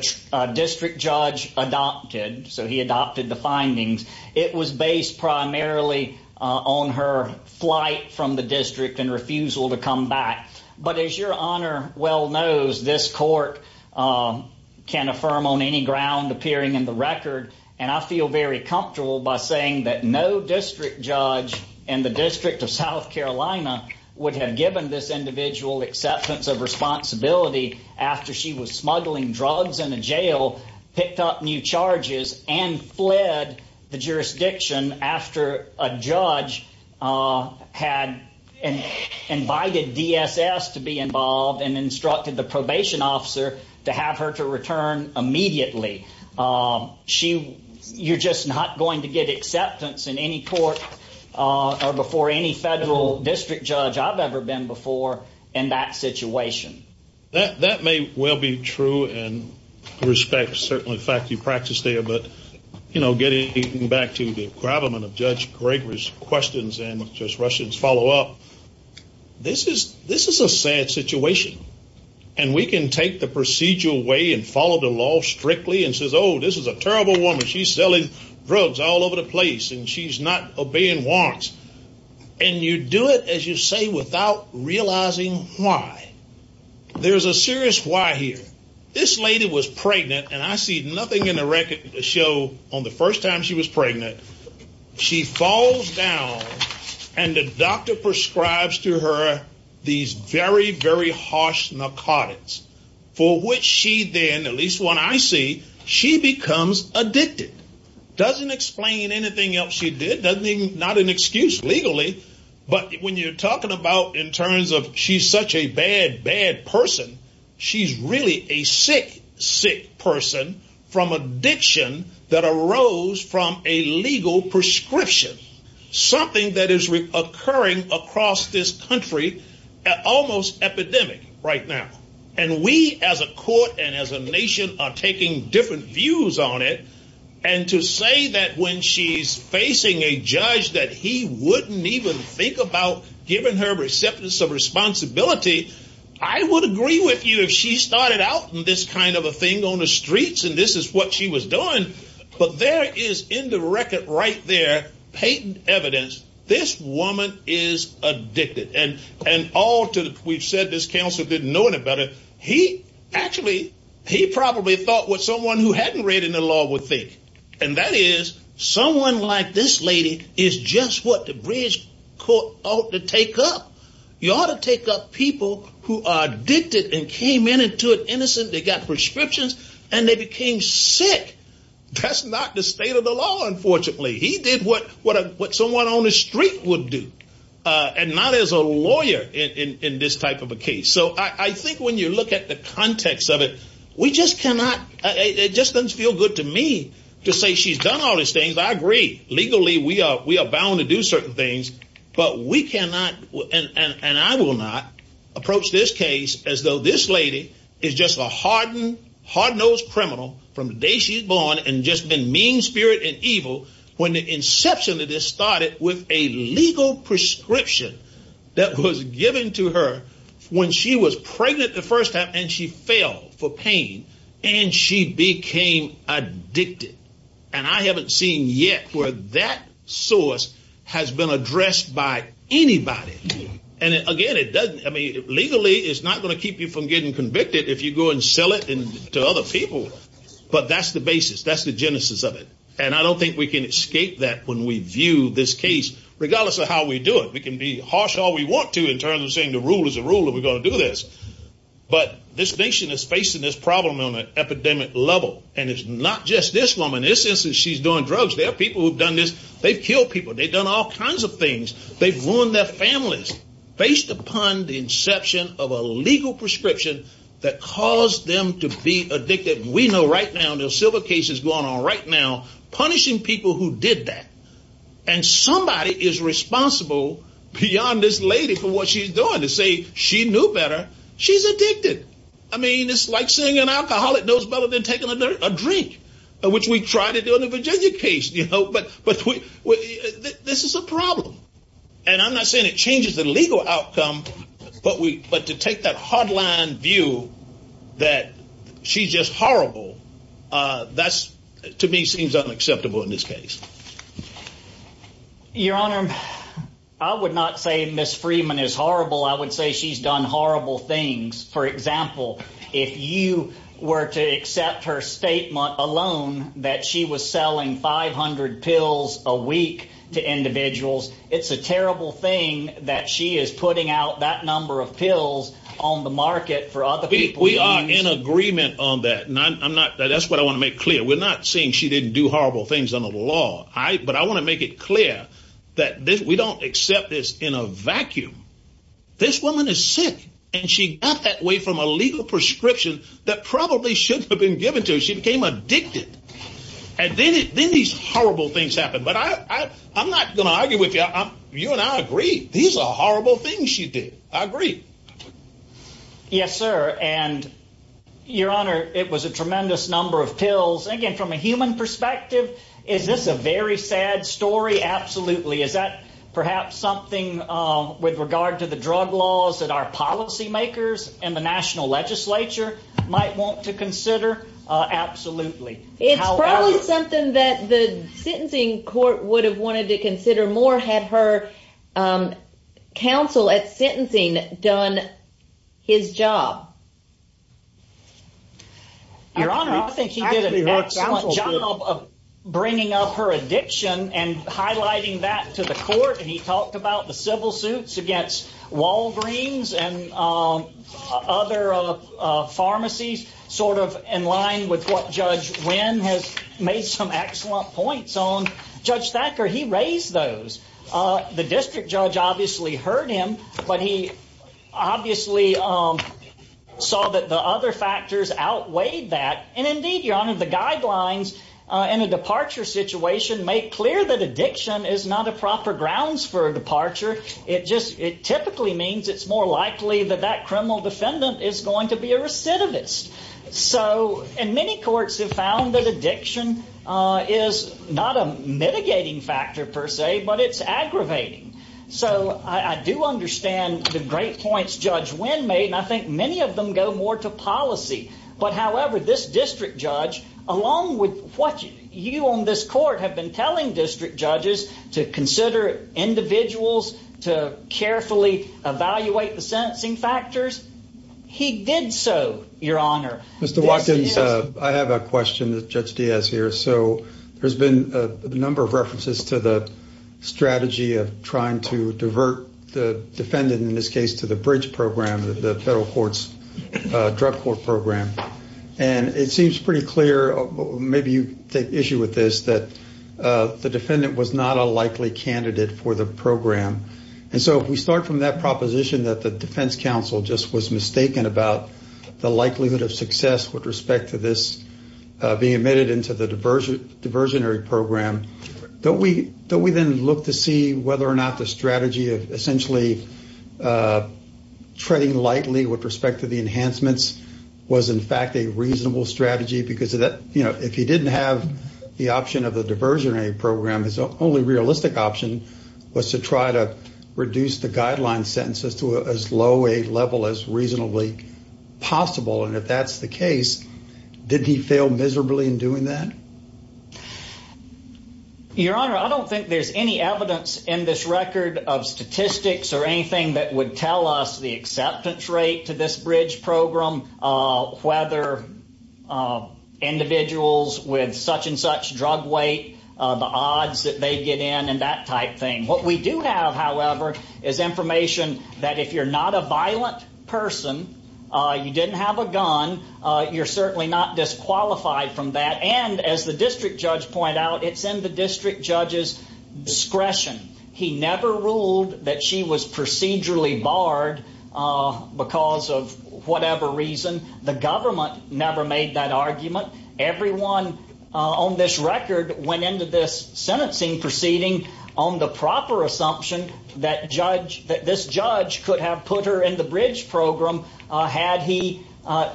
district judge adopted, so he adopted the findings, it was based primarily on her flight from the district and refusal to come back. But as your honor well knows, this court can affirm on any ground appearing in the record. And I feel very comfortable by saying that no district judge in the district of South Carolina would have given this individual acceptance of responsibility after she was smuggling drugs in a jail, picked up new charges, and fled the jurisdiction after a judge had invited DSS to be involved and instructed the probation officer to have her to return immediately. You're just not going to get acceptance in any court or before any federal district judge I've ever been before in that situation. That may well be true, and respect, certainly, the fact you practiced there. But getting back to the gravamen of Judge Gregory's questions and just rushing to follow up, this is a sad situation. And we can take the procedural way and follow the law strictly and say, oh, this is a terrible woman. She's selling drugs all over the place. And she's not obeying warrants. And you do it, as you say, without realizing why. There's a serious why here. This lady was pregnant. And I see nothing in the record to show on the first time she was pregnant, she falls down and the doctor prescribes to her these very, very harsh narcotics, for which she then, at least what I see, she becomes addicted. Doesn't explain anything else she did. Doesn't mean not an excuse legally. But when you're talking about in terms of she's such a bad, bad person, she's really a sick, sick person from addiction that arose from a legal prescription. Something that is occurring across this country almost epidemic right now. And we as a court and as a nation are taking different views on it. And to say that when she's facing a judge that he wouldn't even think about giving her acceptance of responsibility, I would agree with you if she started out in this kind of a thing on the streets and this is what she was doing. But there is in the record right there, patent evidence, this woman is addicted. And all to, we've said this counselor didn't know any better. He actually, he probably thought what someone who hadn't read in the law would think. And that is someone like this lady is just what the greatest court ought to take up. You ought to take up people who are addicted and came in and took innocence. They got prescriptions and they became sick. That's not the state of the law unfortunately. He did what someone on the street would do and not as a lawyer in this type of a case. So I think when you look at the context of it, we just cannot, it just doesn't feel good to me to say she's done all these things. I agree, legally we are bound to do certain things, but we cannot and I will not approach this case as though this lady is just a hardened, hard-nosed criminal from the day she's born and just been mean spirit and evil. When the inception of this started with a legal prescription that was given to her when she was pregnant the first time and she fell for pain and she became addicted. And I haven't seen yet where that source has been addressed by anybody. And again, it doesn't, I mean, legally it's not gonna keep you from getting convicted if you go and sell it to other people. But that's the basis, that's the genesis of it. And I don't think we can escape that when we view this case, regardless of how we do it. We can be harsh all we want to in terms of saying the rule is a rule and we're gonna do this. But this nation is facing this problem on an epidemic level. And it's not just this woman. It's just that she's doing drugs. There are people who've done this. They've killed people. They've done all kinds of things. They've ruined their families based upon the inception of a legal prescription that caused them to be addicted. We know right now, there's civil cases going on right now punishing people who did that. And somebody is responsible beyond this lady for what she's doing to say, she knew better, she's addicted. I mean, it's like saying an alcoholic knows better than taking a drink, which we try to do in the Virginia case, but this is a problem. And I'm not saying it changes the legal outcome, but to take that hard line view that she's just horrible, that's to me, seems unacceptable in this case. Your Honor, I would not say Ms. Freeman is horrible. I would say she's done horrible things. For example, if you were to accept her statement alone that she was selling 500 pills a week to individuals, it's a terrible thing that she is putting out that number of pills on the market for other people. We are in agreement on that. That's what I wanna make clear. We're not saying she didn't do horrible things under the law, that we don't accept this in a vacuum. This woman is sick, and she got that way from a legal prescription that probably should have been given to her. She became addicted. And then these horrible things happened. But I'm not gonna argue with you. You and I agree. These are horrible things she did. I agree. Yes, sir. And Your Honor, it was a tremendous number of pills. Again, from a human perspective, is this a very sad story? Absolutely. Is that perhaps something with regard to the drug laws that our policymakers and the national legislature might want to consider? Absolutely. It's probably something that the sentencing court would have wanted to consider more had her counsel at sentencing done his job. Your Honor, I think she did a excellent job of bringing up her addiction and highlighting that to the court. And he talked about the civil suits against Walgreens and other pharmacies, sort of in line with what Judge Wynn has made some excellent points on. Judge Thacker, he raised those. The district judge obviously heard him, but he obviously saw that the other factors outweighed that. And indeed, Your Honor, the guidelines in a departure situation make clear that addiction is not a proper grounds for a departure. It typically means it's more likely that that criminal defendant is going to be a recidivist. And many courts have found that addiction is not a mitigating factor per se, but it's aggravating. So I do understand the great points Judge Wynn made, and I think many of them go more to policy. But however, this district judge, along with what you on this court have been telling district judges to consider individuals, to carefully evaluate the sentencing factors, he did so, Your Honor. Mr. Watkins, I have a question that Judge Diaz here. So there's been a number of references to the strategy of trying to divert the defendant, in this case, to the bridge program, the federal court's drug court program. And it seems pretty clear, maybe you take issue with this, that the defendant was not a likely candidate for the program. And so if we start from that proposition that the defense counsel just was mistaken about the likelihood of success with respect to this being admitted into the diversionary program, don't we then look to see whether or not the strategy of essentially treading lightly with respect to the enhancements was in fact a reasonable strategy? Because if he didn't have the option of the diversionary program, his only realistic option was to try to reduce the guideline sentences to as low a level as reasonably possible. And if that's the case, did he fail miserably in doing that? Your Honor, I don't think there's any evidence in this record of statistics or anything that would tell us the acceptance rate to this bridge program. Whether individuals with such and such drug weight, the odds that they get in and that type thing. What we do have, however, is information that if you're not a violent person, you didn't have a gun, you're certainly not disqualified from that. And as the district judge pointed out, it's in the district judge's discretion. He never ruled that she was procedurally barred because of whatever reason. The government never made that argument. Everyone on this record went into this sentencing proceeding on the proper assumption that this judge could have put her in the bridge program had he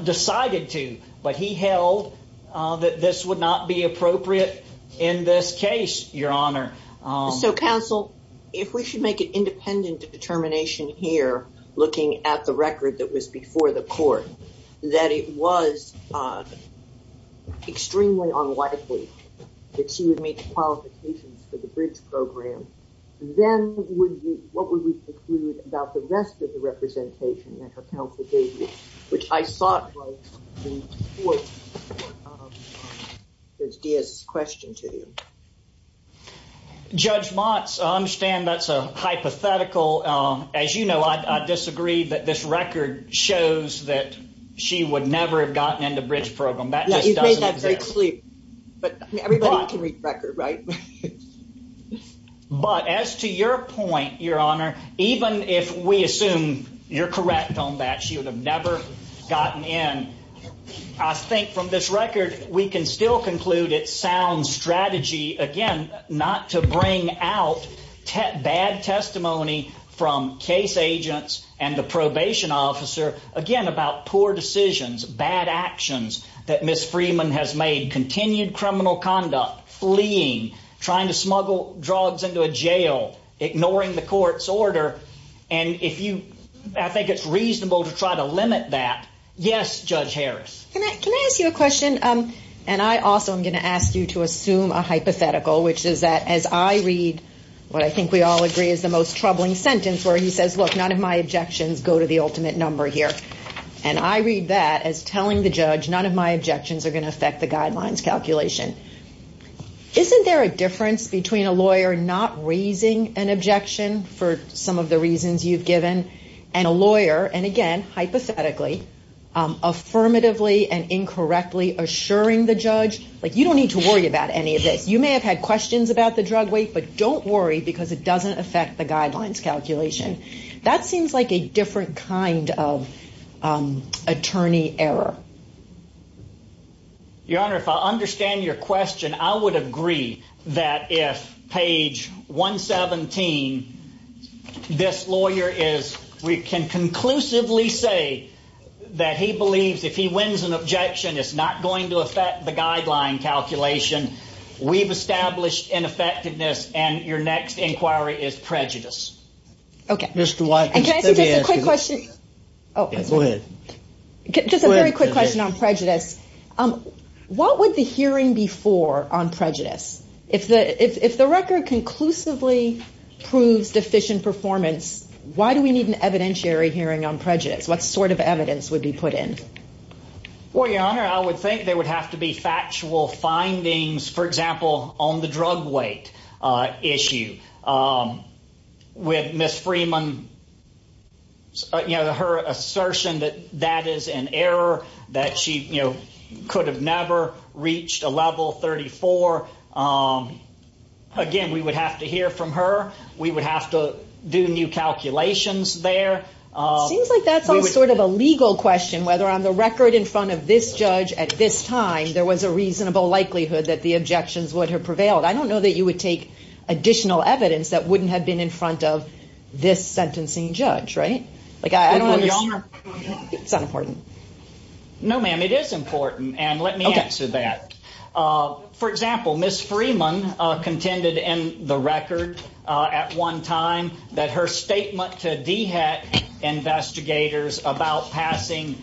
decided to. But he held that this would not be appropriate in this case, Your Honor. So, counsel, if we should make an independent determination here looking at the record that was before the court, that it was extremely unlikely that she would make qualifications for the bridge program, then what would we conclude about the rest of the representation that her counsel gave you, which I thought was important as Diaz's question to you. DIAZ Judge Mott, I understand that's a hypothetical. As you know, I disagree that this record shows that she would never have gotten in the bridge program. That doesn't exist. You've made that very clear. But everybody can read the record, right? But as to your point, Your Honor, even if we assume you're correct on that, she would have never gotten in. I think from this record, we can still conclude it sounds strategy, again, not to bring out bad testimony from case agents and the probation officer, again, about poor decisions, bad actions that Ms. Freeman has made, continued criminal conduct, fleeing, trying to smuggle drugs into a jail, ignoring the court's order. And I think it's reasonable to try to limit that. Yes, Judge Harris. Can I ask you a question? And I also am going to ask you to assume a hypothetical, which is that as I read, what I think we all agree is the most troubling sentence where he says, look, none of my objections go to the ultimate number here. And I read that as telling the judge, none of my objections are going to affect the guidelines calculation. Isn't there a difference between a lawyer not raising an objection for some of the reasons you've given and a lawyer, and again, hypothetically, affirmatively and incorrectly assuring the judge, like you don't need to worry about any of this. You may have had questions about the drug weight, but don't worry because it doesn't affect the guidelines calculation. That seems like a different kind of attorney error. Your Honor, if I understand your question, I would agree that if page 117, this lawyer is, we can conclusively say that he believes if he wins an objection, it's not going to affect the guideline calculation. We've established ineffectiveness and your next inquiry is prejudice. Okay. Just a very quick question on prejudice. What would the hearing be for on prejudice? If the record conclusively proves decision performance, why do we need an evidentiary hearing on prejudice? What sort of evidence would be put in? Well, Your Honor, I would think there would have to be factual findings, for example, on the drug weight. Issue with Ms. Freeman, you know, her assertion that that is an error that she could have never reached a level 34. Again, we would have to hear from her. We would have to do new calculations there. Seems like that's all sort of a legal question, whether on the record in front of this judge at this time, there was a reasonable likelihood that the objections would have prevailed. I don't know that you would take additional evidence that wouldn't have been in front of this sentencing judge, right? Like, I don't know. Your Honor. It's not important. No, ma'am, it is important. And let me answer that. For example, Ms. Freeman contended in the record at one time that her statement to DHET investigators about passing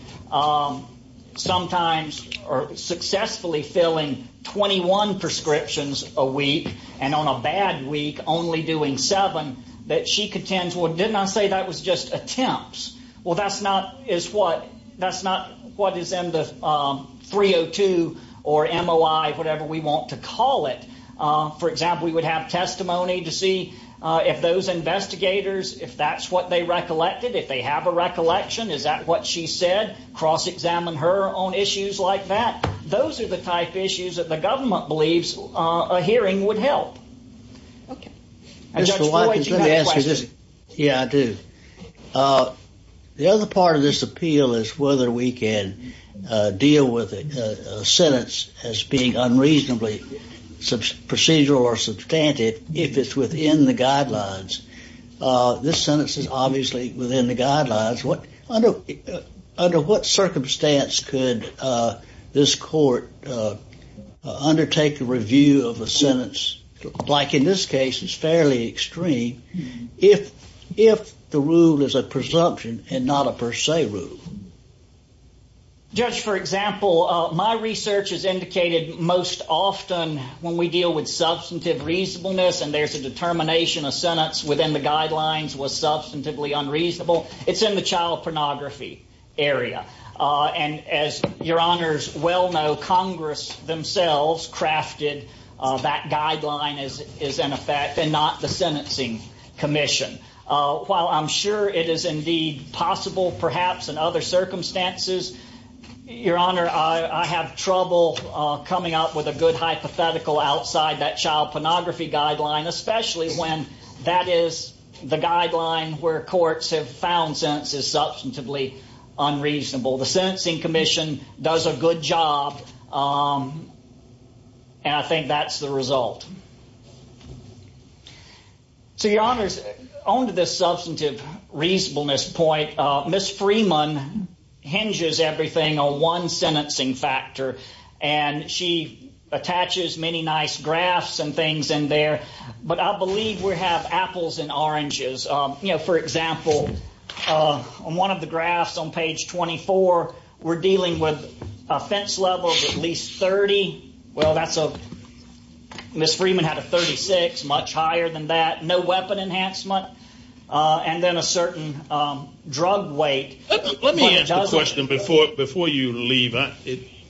sometimes or successfully filling 21 prescriptions a week and on a bad week only doing seven that she contends, well, didn't I say that was just attempts? Well, that's not is what that's not what is in the 302 or MOI, whatever we want to call it. For example, we would have testimony to see if those investigators, if that's what they recollected, if they have a recollection, is that what she said? Cross-examine her on issues like that. Those are the type of issues that the government believes a hearing would help. Yeah, I do. The other part of this appeal is whether we can deal with a sentence as being unreasonably procedural or substantive if it's within the guidelines. This sentence is obviously within the guidelines. Under what circumstance could this court undertake the review of a sentence like in this case is fairly extreme if the rule is a presumption and not a per se rule? Just for example, my research has indicated most often when we deal with substantive reasonableness and there's a determination of sentence within the guidelines was substantively unreasonable. It's in the child pornography area. And as your honors well know, Congress themselves crafted that guideline is in effect and not the sentencing commission. While I'm sure it is indeed possible, perhaps in other circumstances, your honor, I have trouble coming up with a good hypothetical outside that child pornography guideline, especially when that is the guideline where courts have found the sentence is substantively unreasonable. The sentencing commission does a good job. And I think that's the result. So your honors, on to this substantive reasonableness point, Ms. Freeman hinges everything on one sentencing factor and she attaches many nice graphs and things in there. But I believe we have apples and oranges. You know, for example, on one of the graphs on page 24, we're dealing with offense level of at least 30. Well, Ms. Freeman had a 36, much higher than that. No weapon enhancement. And then a certain drug weight. Let me ask a question before you leave.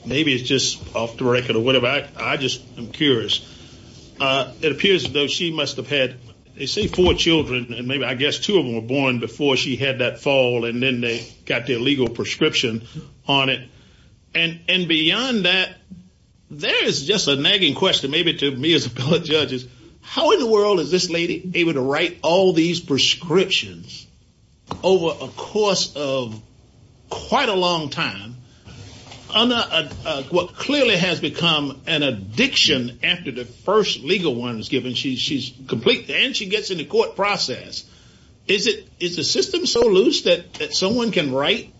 Maybe it's just off the record or whatever. I just am curious. It appears though she must have had, they say four children and maybe I guess two of them were born before she had that fall and then they got their legal prescription on it. And beyond that, there is just a nagging question maybe to me as a court judge is, how in the world is this lady able to write all these prescriptions over a course of quite a long time on what clearly has become an addiction after the first legal one is given, she's complete and she gets in the court process. Is it, is the system so loose that someone can write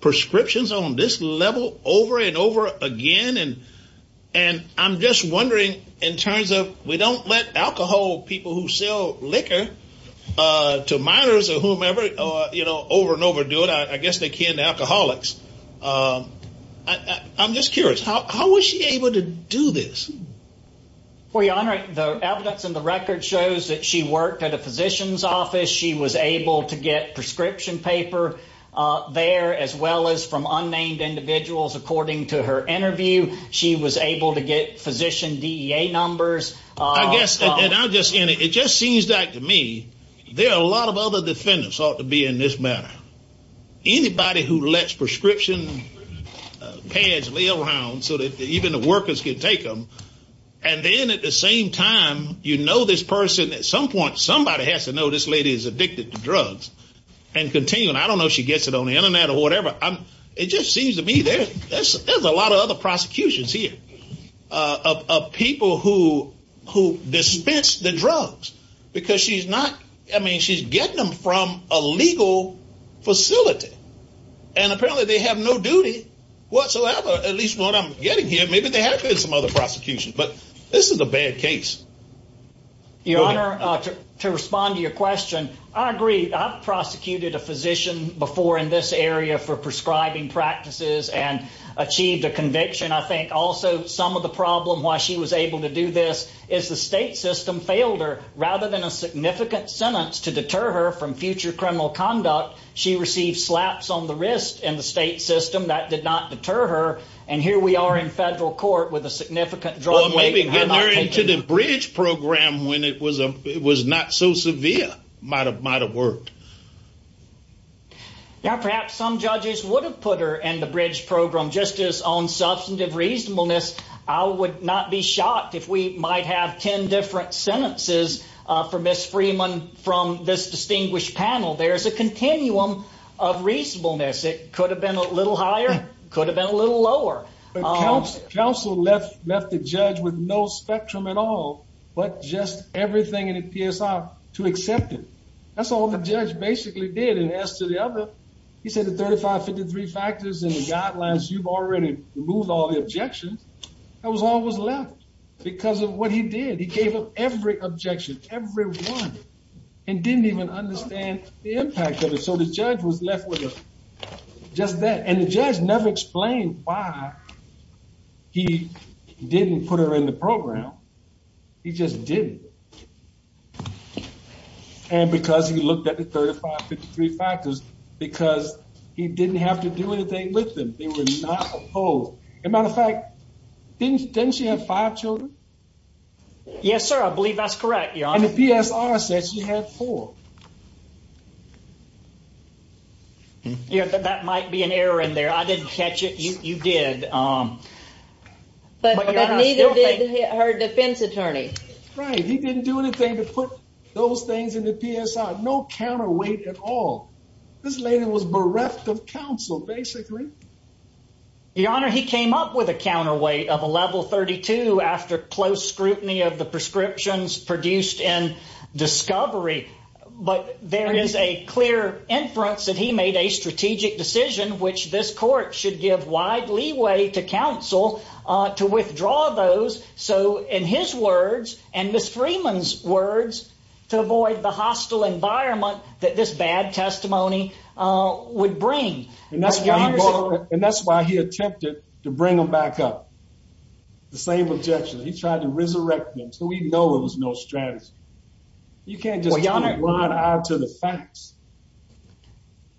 prescriptions on this level over and over again? And I'm just wondering in terms of we don't let alcohol people who sell liquor to minors or whomever, you know, over and over do it. I guess they can, the alcoholics. I'm just curious, how was she able to do this? Well, Your Honor, the evidence in the record shows that she worked at a physician's office. She was able to get prescription paper there as well as from unnamed individuals. According to her interview, she was able to get physician DEA numbers. It just seems that to me, there are a lot of other defendants ought to be in this matter. Anybody who lets prescription pads lay around so that even the workers can take them. And then at the same time, you know, this person at some point, somebody has to know this lady is addicted to drugs and continue. I don't know if she gets it on the internet or whatever. It just seems to me there's a lot of other prosecutions here of people who dispense the drugs because she's not, I mean, she's getting them from a legal facility. And apparently they have no duty whatsoever, at least what I'm getting here. Maybe they have some other prosecutions, but this is a bad case. Your Honor, to respond to your question, I agree, I've prosecuted a physician before in this area for prescribing practices and achieved a conviction. I think also some of the problem why she was able to do this is the state system failed her. Rather than a significant sentence to deter her from future criminal conduct, she received slaps on the wrist that did not deter her. And here we are in federal court with a significant drug- To the bridge program when it was not so severe might have worked. Now, perhaps some judges would have put her in the bridge program just as on substantive reasonableness. I would not be shocked if we might have 10 different sentences for Ms. Freeman from this distinguished panel. There's a continuum of reasonableness. It could have been a little higher, could have been a little lower. Counsel left the judge with no spectrum at all, but just everything in the PSR to accept it. That's all the judge basically did. And as to the other, he said the 3553 factors and the guidelines, you've already moved all the objections. That was all that was left because of what he did. He gave up every objection, every one, and didn't even understand the impact of it. So the judge was left with just that. And the judge never explained why he didn't put her in the program. He just didn't. And because he looked at the 3553 factors because he didn't have to do it. They listened. They were not opposed. As a matter of fact, didn't she have five children? Yes, sir. I believe that's correct. And the PSR says she had four. That might be an error in there. I didn't catch it. You did. But neither did her defense attorney. Right. He didn't do anything to put those things in the PSR. No counterweight at all. This lady was bereft of counsel, basically. Your Honor, he came up with a counterweight of a level 32 after close scrutiny of the prescriptions produced in discovery. But there is a clear inference that he made a strategic decision, which this court should give wide leeway to counsel to withdraw those. So in his words and Ms. Freeman's words, to avoid the hostile environment that this bad testimony would bring. And that's why he attempted to bring them back up. The same objection. He tried to resurrect them. So we know it was no strategy. You can't just run out to the facts.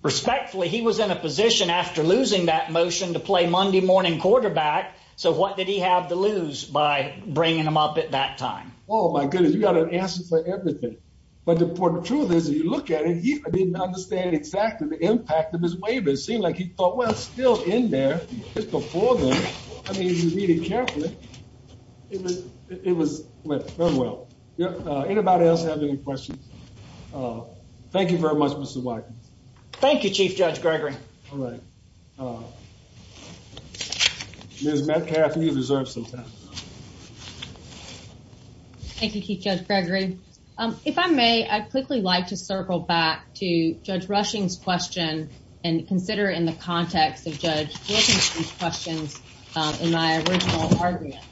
Respectfully, he was in a position after losing that motion to play Monday morning quarterback. So what did he have to lose by bringing them up at that time? Oh, my goodness. You got an answer for everything. But the truth is, if you look at it, he didn't understand exactly the impact of this waiver. It seemed like he thought, well, it's still in there. It's before them. I mean, if you read it carefully, it was left unwell. Anybody else have any questions? Thank you very much, Mr. Biker. Thank you, Chief Judge Gregory. Thank you, Chief Judge Gregory. If I may, I'd quickly like to circle back to Judge Rushing's question and consider it in the context of Judge Jacobson's question in my original argument.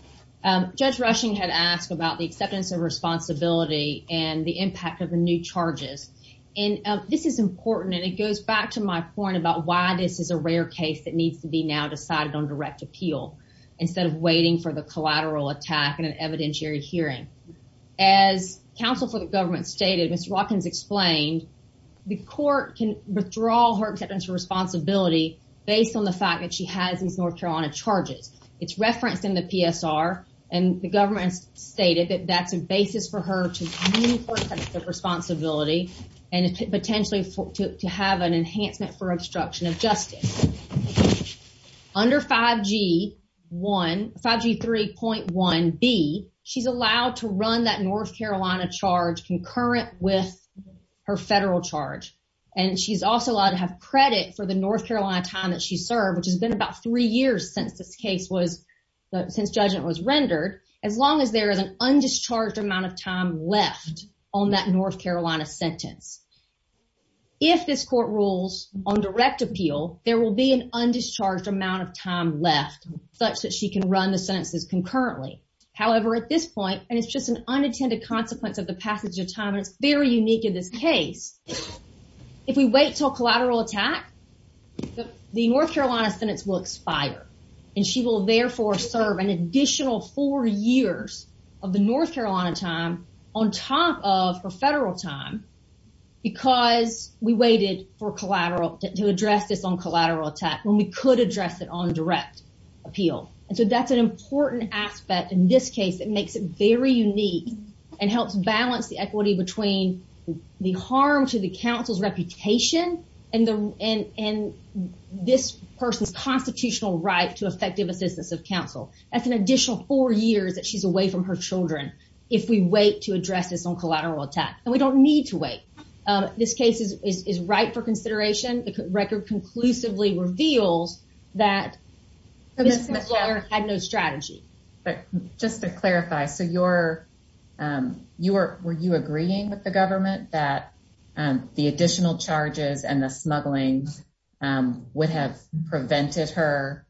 Judge Rushing had asked about the acceptance of responsibility and the impact of the new charges. And this is important, and it goes back to my point about why this is a rare case that needs to be now decided on direct appeal instead of waiting for the collateral attack in an evidentiary hearing. As counsel for the government stated, as Jockins explained, the court can withdraw her acceptance of responsibility based on the fact that she has these North Carolina charges. It's referenced in the PSR and the government stated that that's the basis for her acceptance of responsibility and potentially to have an enhancement for obstruction of justice. Under 5G1, 5G3.1B, she's allowed to run that North Carolina charge concurrent with her federal charge. And she's also allowed to have credit for the North Carolina time that she served, which has been about three years since this case was, since judgment was rendered, as long as there is an undischarged amount of time left on that North Carolina sentence. If this court rules on direct appeal, there will be an undischarged amount of time left such that she can run the sentences concurrently. However, at this point, and it's just an unintended consequence of the passage of time, it's very unique in this case. If we wait till collateral attack, the North Carolina sentence will expire and she will therefore serve an additional four years of the North Carolina time on top of her federal time because we waited for collateral to address this on collateral attack when we could address it on direct appeal. And so that's an important aspect in this case that makes it very unique and helps balance the equity between the harm to the counsel's reputation and this person's constitutional right to effective assistance of counsel. That's an additional four years that she's away from her children if we wait to address this on collateral attack. And we don't need to wait. This case is right for consideration. The record conclusively reveals that the court had no strategy. But just to clarify, were you agreeing with the government that the additional charges and the smuggling would have prevented her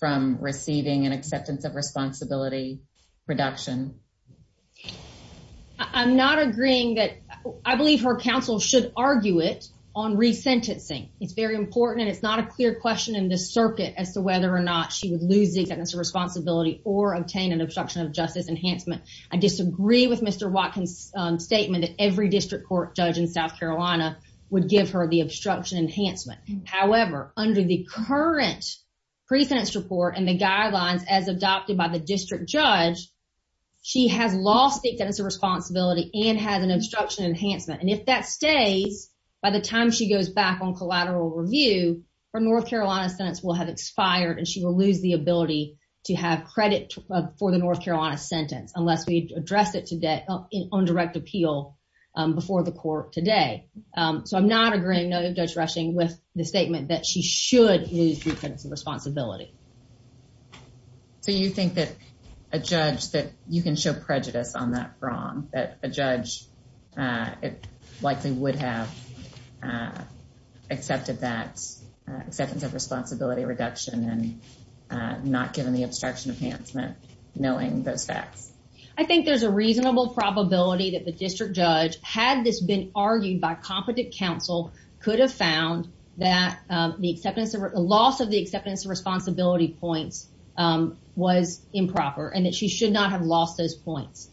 from receiving an acceptance of responsibility reduction? I'm not agreeing that... I believe her counsel should argue it on re-sentencing. It's very important and it's not a clear question in this circuit as to whether or not she was losing her responsibility or obtained an obstruction of justice enhancement. I disagree with Mr. Watkins' statement that every district court judge in South Carolina would give her the obstruction enhancement. However, under the current pre-sentence report and the guidelines as adopted by the district judge, she has lost the acceptance of responsibility and has an obstruction enhancement. And if that stays, by the time she goes back on collateral review, her North Carolina sentence will have expired and she will lose the ability to have credit for the North Carolina sentence unless we address it today on direct appeal So I'm not agreeing, noted Judge Rushing, with the statement that she should lose the acceptance of responsibility. So you think that a judge, that you can show prejudice on that from, that a judge likely would have accepted that, accepted the responsibility reduction and not given the obstruction enhancement knowing the facts? I think there's a reasonable probability that the district judge, had this been argued by competent counsel, could have found that the acceptance, loss of the acceptance of responsibility point was improper and that she should not have lost those points.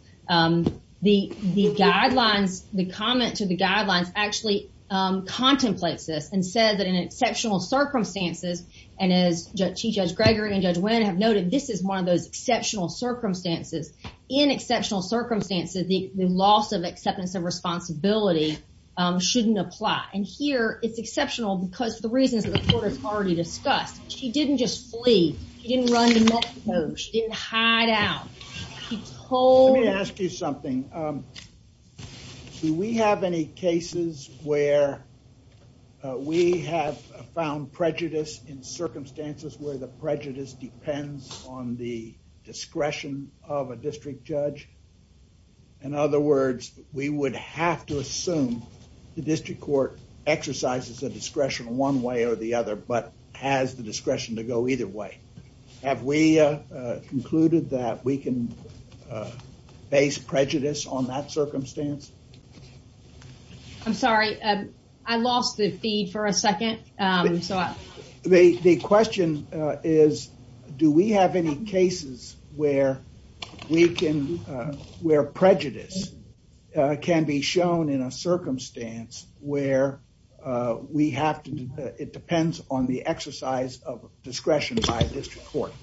The guidelines, the comment to the guidelines, actually contemplates this and says that in exceptional circumstances, and as Judge Gregory and Judge Wynn have noted, this is one of those exceptional circumstances. In exceptional circumstances, the loss of acceptance of responsibility shouldn't apply. And here it's exceptional because the reasons the report has already discussed, she didn't just flee, she didn't run the next note, she didn't hide out. She told- Let me ask you something. Do we have any cases where we have found prejudice in circumstances where the prejudice depends on the discretion of a district judge? In other words, we would have to assume the district court exercises a discretion one way or the other, but has the discretion to go either way. Have we concluded that we can base prejudice on that circumstance? I'm sorry. I lost the feed for a second. The question is, do we have any cases where we can- where prejudice can be shown in a circumstance where we have to- on the exercise of discretion by the district court?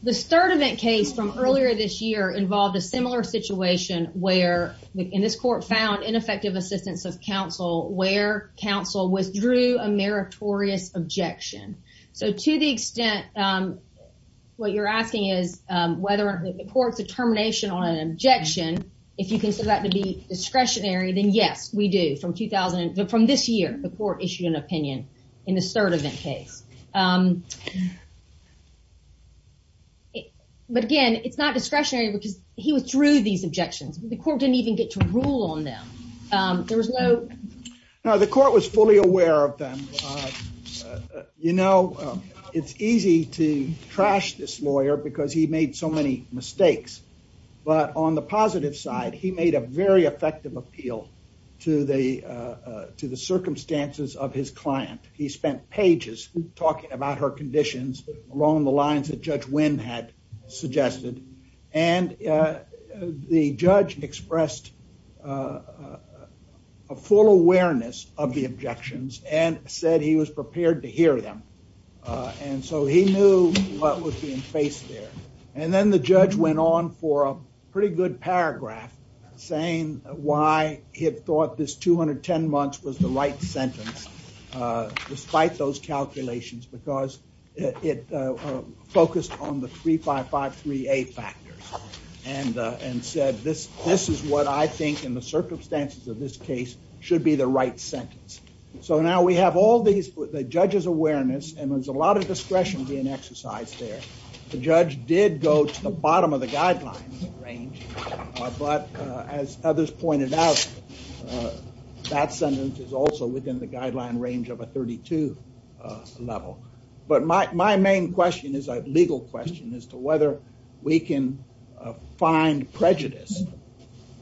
The third event case from earlier this year involved a similar situation where- and this court found ineffective assistance of counsel where counsel withdrew a meritorious objection. So to the extent what you're asking is whether the court's determination on an objection, if you consider that to be discretionary, then yes, we do. From 2000- from this year, the court issued an opinion in the third event case. But again, it's not discretionary, which is he withdrew these objections. The court didn't even get to rule on them. There was no- No, the court was fully aware of them. You know, it's easy to trash this lawyer because he made so many mistakes. But on the positive side, he made a very effective appeal to the circumstances of his client. He spent pages talking about her conditions along the lines that Judge Wynn had suggested. And the judge expressed a full awareness of the objections and said he was prepared to hear them. And so he knew what was being faced there. And then the judge went on for a pretty good paragraph saying why he had thought this 210 months was the right sentence, despite those calculations, because it focused on the 355-3A factors and said, this is what I think in the circumstances of this case should be the right sentence. So now we have all these- the judge's awareness, and there's a lot of discretion being exercised there. The judge did go to the bottom of the guidelines range, but as others pointed out, that sentence is also within the guideline range of a 32 level. But my main question is a legal question as to whether we can find prejudice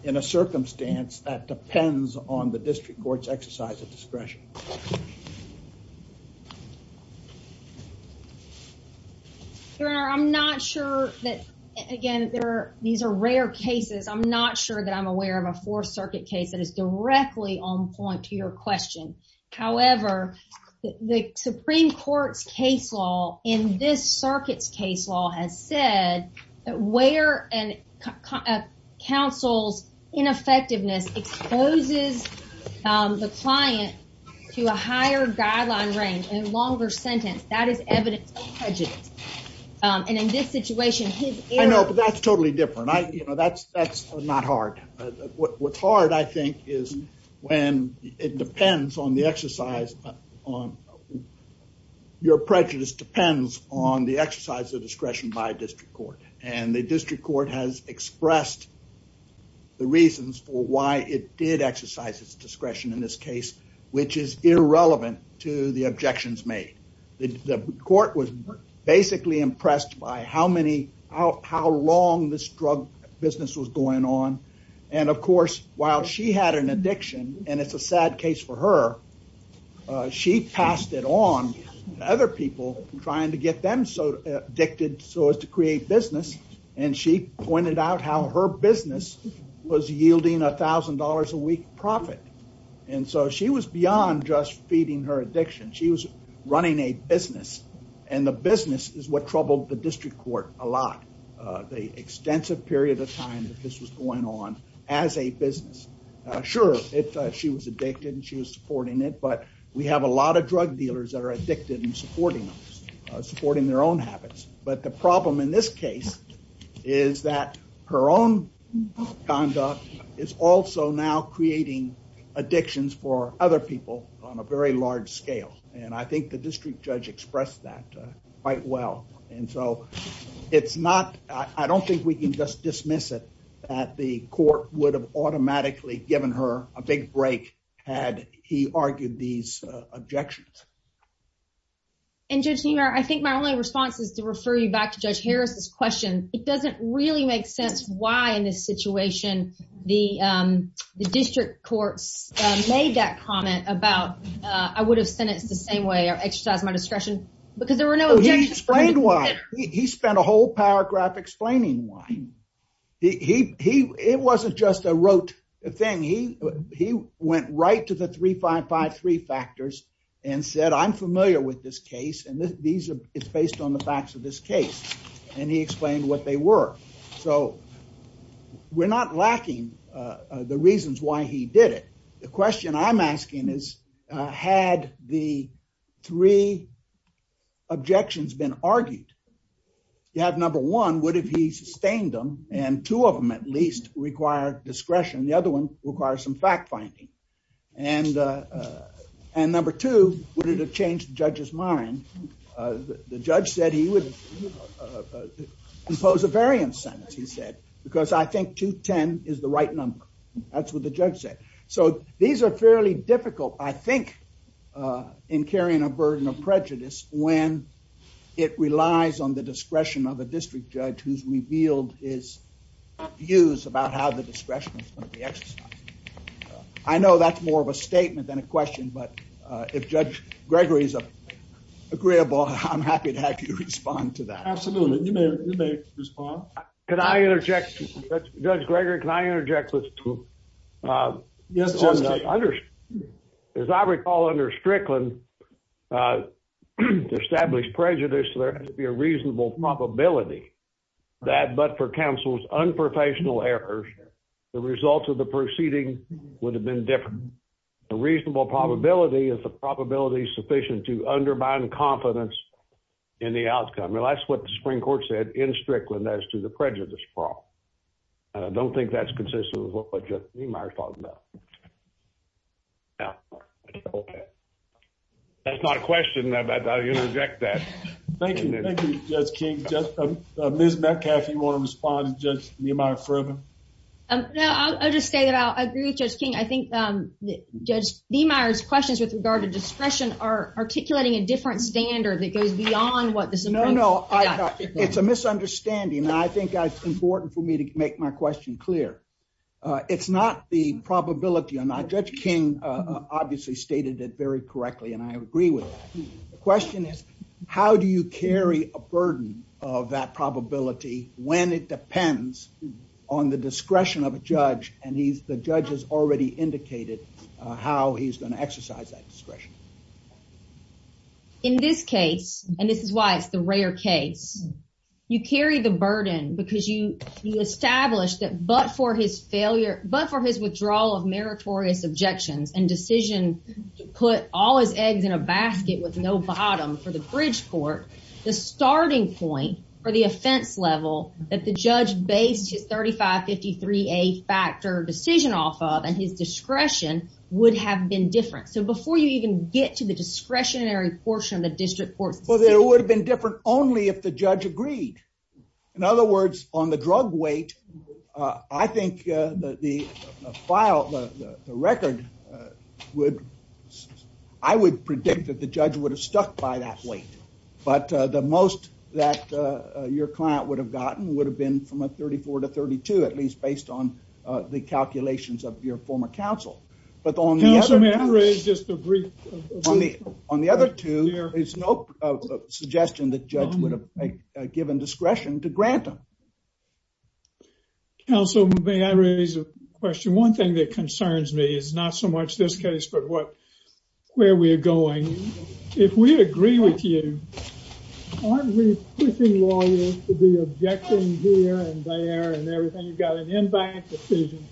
in a circumstance that depends on the district court's exercise of discretion. Your Honor, I'm not sure that, again, these are rare cases. I'm not sure that I'm aware of a Fourth Circuit case that is directly on point to your question. However, the Supreme Court case law in this circuit's case law has said that where a counsel's ineffectiveness exposes the client to a higher guideline range and a longer sentence, that is evidence of prejudice. And in this situation, his error- I know, but that's totally different. That's not hard. What's hard, I think, is when it depends on the exercise on your prejudice depends on the exercise of discretion by district court. And the district court has expressed the reasons for why it did exercise its discretion in this case, which is irrelevant to the objections made. The court was basically impressed by how many- business was going on. And of course, while she had an addiction, and it's a sad case for her, she passed it on to other people trying to get them so addicted so as to create business. And she pointed out how her business was yielding $1,000 a week profit. And so she was beyond just feeding her addiction. She was running a business. And the business is what troubled the district court a lot. The extensive period of time that this was going on as a business. Sure, she was addicted and she was supporting it, but we have a lot of drug dealers that are addicted and supporting their own habits. But the problem in this case is that her own conduct is also now creating addictions for other people on a very large scale. And I think the district judge expressed that quite well. And so it's not, I don't think we can just dismiss it that the court would have automatically given her a big break had he argued these objections. And Judge Neumar, I think my only response was to refer you back to Judge Harris's question. It doesn't really make sense why in this situation the district court made that comment about I would have sent it the same way or exercised my discretion because there were no- He explained why. He spent a whole paragraph explaining why. It wasn't just a rote thing. He went right to the 3553 factors and said, I'm familiar with this case and it's based on the facts of this case. And he explained what they were. So we're not lacking the reasons why he did it. The question I'm asking is, had the three objections been argued, you have number one, what if he sustained them and two of them at least require discretion. The other one requires some fact-finding. And number two, would it have changed the judge's mind? The judge said he would impose a variance sentence, he said, because I think 210 is the right number. That's what the judge said. So these are fairly difficult. I think in carrying a burden of prejudice when it relies on the discretion of the district judge who's revealed his views about how the discretion is going to be exercised. I know that's more of a statement than a question, but if Judge Gregory's agreeable, I'm happy to have you respond to that. Absolutely. You may respond. Can I interject, Judge Gregory, can I interject with two? Yes. As I recall under Strickland, to establish prejudice, there has to be a reasonable probability that but for counsel's unprofessional errors, the results of the proceeding would have been different. The reasonable probability is the probability sufficient to undermine confidence in the outcome. Well, that's what the Supreme Court said in Strickland as to the prejudice problem. I don't think that's consistent with what Judge Niemeyer talked about. No. That's not a question. I interject that. Thank you, Judge King. Ms. Metcalf, do you want to respond to Judge Niemeyer further? No, I'll just say that I agree with Judge King. I think Judge Niemeyer's questions with regard to discretion are articulating a different standard that goes beyond what the Supreme Court- No, no. It's a misunderstanding. I think it's important for me to make my question clear. It's not the probability- Now, Judge King obviously stated it very correctly, and I agree with that. The question is, how do you carry a burden of that probability when it depends on the discretion of a judge, and the judge has already indicated how he's going to exercise that discretion? In this case, and this is why it's the rare case, you carry the burden because you establish that but for his withdrawal of meritorious objections and decisions to put all his eggs in a basket with no bottom for the bridge court, the starting point for the offense level that the judge based his 3553A factor decision off of, and his discretion would have been different. Before you even get to the discretionary portion of the district court- Well, it would have been different only if the judge agreed. In other words, on the drug weight, I think that the file, the record, I would predict that the judge would have stuck by that weight, but the most that your client would have gotten would have been from a 34 to 32, at least based on the calculations of your former counsel, but on the other- Counselor, may I raise just a brief- On the other two, there's no suggestion that judge would have given discretion to grant them. Counselor, may I raise a question? One thing that concerns me is not so much this case, but where we're going. If we agree with you, aren't we pushing lawyers to be objecting here and there and everything? You've got an in-back decision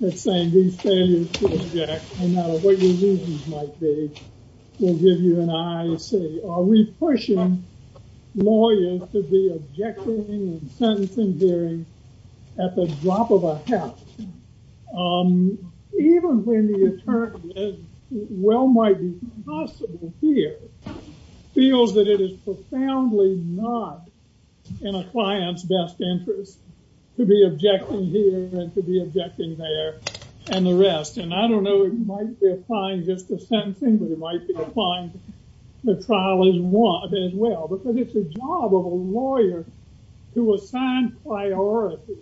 that's saying we say you should object, no matter what your reasons might be. We'll give you an aye and say, are we pushing lawyers to be objecting and sentencing hearings at the drop of a hat? Even when the attorney is as well-mighted as possible here, feels that it is profoundly not in a client's best interest to be objecting here and to be objecting there and the rest. And I don't know if he might be applying just the sentencing, but he might be applying the trial as well, because it's the job of a lawyer to assign priority,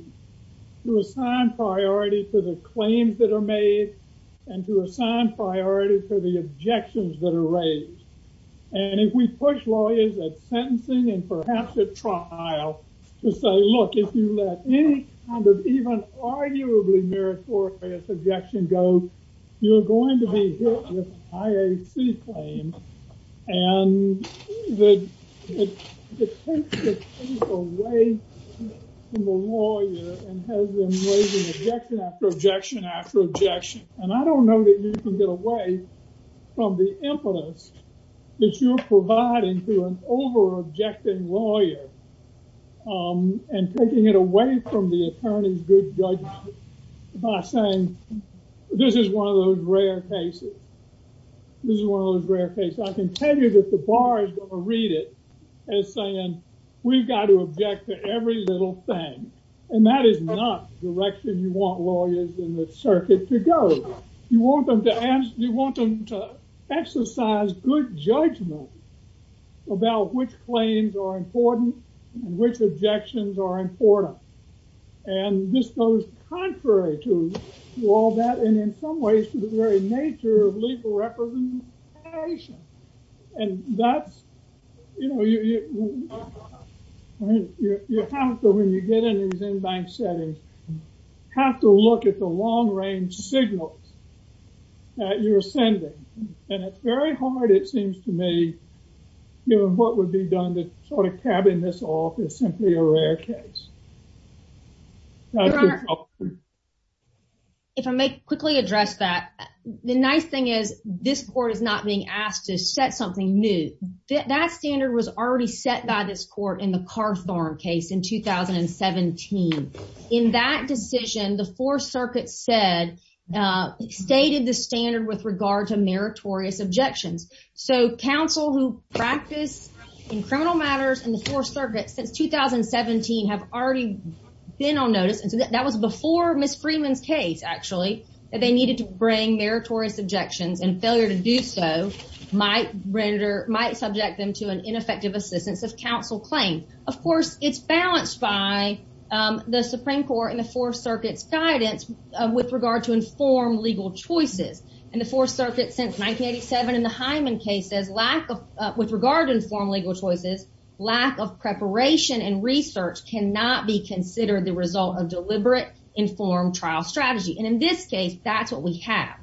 to assign priority to the claims that are made and to assign priority to the objections that are raised. And if we push lawyers at sentencing and perhaps at trial to say, look, if you let any kind of even arguably meritorious objection go, you're going to be hit with IAC claims. And it takes away from the lawyer and has them raising objection after objection after objection. And I don't know that you can get away from the influence that you're providing to an over-objecting lawyer and taking it away from the attorney's good judgment by saying, this is one of those rare cases. This is one of those rare cases. I can tell you that the bar is going to read it as saying, we've got to object to every little thing. And that is not the direction you want lawyers in this circuit to go. You want them to exercise good judgment about which claims are important, which objections are important. And this goes contrary to all that and in some ways to the very nature of legal representation. And you have to, when you get in these in-bank settings, have to look at the long-range signal that you're sending. And it's very hard, it seems to me, given what would be done to sort of cabin this off as simply a rare case. If I may quickly address that, the nice thing is this court is not being asked to set something new. That standard was already set by this court in the Carthorne case in 2017. In that decision, the Fourth Circuit said, stated the standard with regard to meritorious objections. So counsel who practice in criminal matters in the Fourth Circuit since 2017 have already been on notice. That was before Ms. Freeman's case, actually, that they needed to bring meritorious objections and failure to do so might render, might subject them to an ineffective assistance with counsel claims. Of course, it's balanced by the Supreme Court and the Fourth Circuit guidance with regard to informed legal choices. In the Fourth Circuit since 1987 in the Hyman case, with regard to informed legal choices, lack of preparation and research cannot be considered the result of deliberate informed trial strategy. And in this case, that's what we have.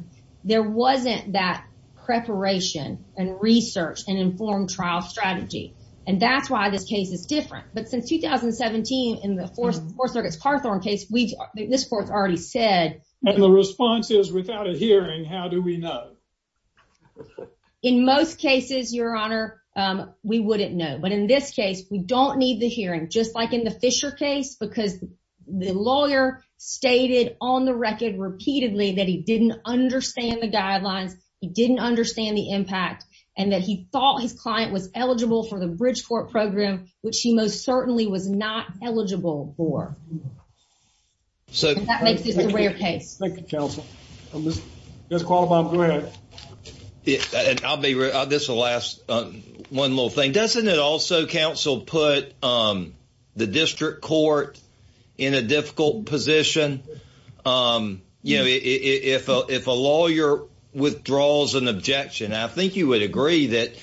There wasn't that preparation and research and informed trial strategy. And that's why this case is different. But since 2017, in the Fourth Circuit's Carthorne case, we've, this court's already said... And the response is without a hearing, how do we know? In most cases, Your Honor, we wouldn't know. But in this case, we don't need the hearing, just like in the Fisher case, because the lawyer stated on the record repeatedly that he didn't understand the guidelines, he didn't understand the impact, and that he thought his client was eligible for the Bridgeport program, which he most certainly was not eligible for. So that makes it a rare case. Thank you, counsel. Just call it off the record. And I'll be real, this is the last one little thing. Doesn't it also, counsel, put the district court in a difficult position? You know, if a lawyer withdraws an objection, I think you would agree that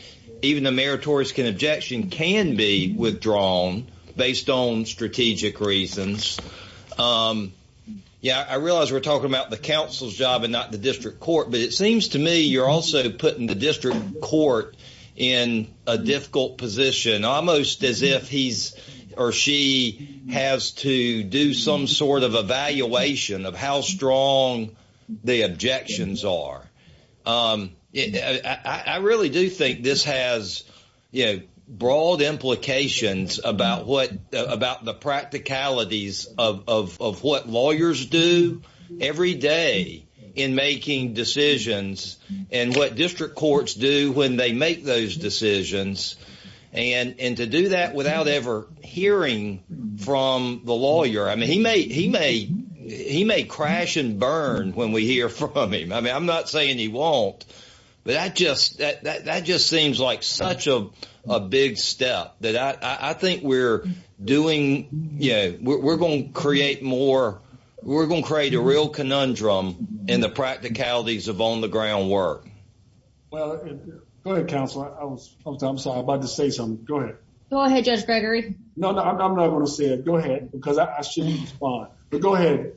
even a meritorious objection can be withdrawn based on strategic reasons. Yeah, I realize we're talking about the counsel's job and not the district court, but it seems to me you're also putting the district court in a difficult position, almost as if he or she has to do some sort of evaluation of how strong the objections are. I really do think this has, you know, broad implications about the practicalities of what lawyers do every day in making decisions and what district courts do when they make those decisions. And to do that without ever hearing from the lawyer, I mean, he may crash and burn when we hear from him. I mean, I'm not saying he won't, but that just seems like such a big step that I think we're doing, yeah, we're going to create more, we're going to create a real conundrum in the practicalities of on-the-ground work. Well, go ahead, counsel. I was about to say something. Go ahead. Go ahead, Judge Gregory. I'm not going to say it. Go ahead, because I shouldn't respond. But go ahead.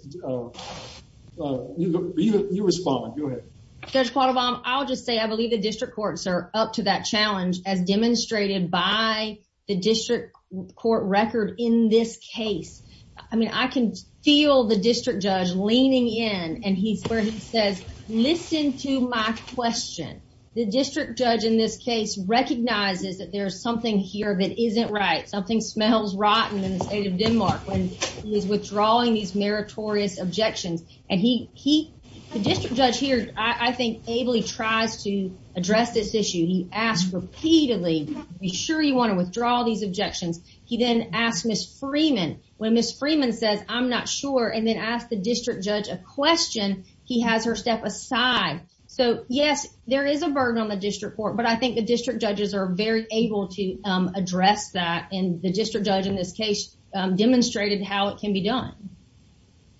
You respond. Go ahead. Judge Quattlebaum, I'll just say I believe the district courts are up to that challenge as demonstrated by the district court record in this case. I mean, I can feel the district judge leaning in and he says, listen to my question. The district judge in this case recognizes that there's something here that isn't right, something smells rotten in the state of Denmark when he's withdrawing these meritorious objections. And he, the district judge here, I think, ably tries to address this issue. He asks repeatedly, are you sure you want to withdraw these objections? He then asks Ms. Freeman, when Ms. Freeman says, I'm not sure, and then asks the district judge a question, he has her step aside. So yes, there is a burden on the district court, but I think the district judges are very able to address that and the district judge in this case demonstrated how it can be done.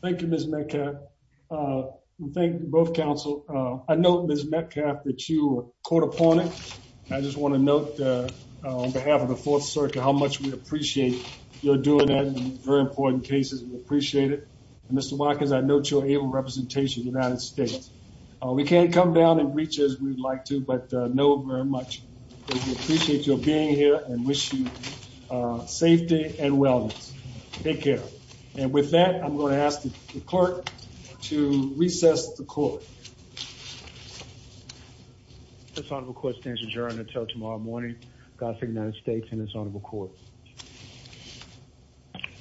Thank you, Ms. Metcalf. Thank you both counsel. I know Ms. Metcalf, that you are a court opponent. I just want to note on behalf of the Fourth Circuit how much we appreciate your doing that in very important cases. We appreciate it. And Mr. Watkins, I note your able representation in that state. We can't come down and reach you as we'd like to, but I know very much that you appreciate your being here and wish you safety and wellness. Take care. And with that, I'm going to ask the clerk to recess the court. This honorable court stands adjourned until tomorrow morning. Godspeed, United States and this honorable court.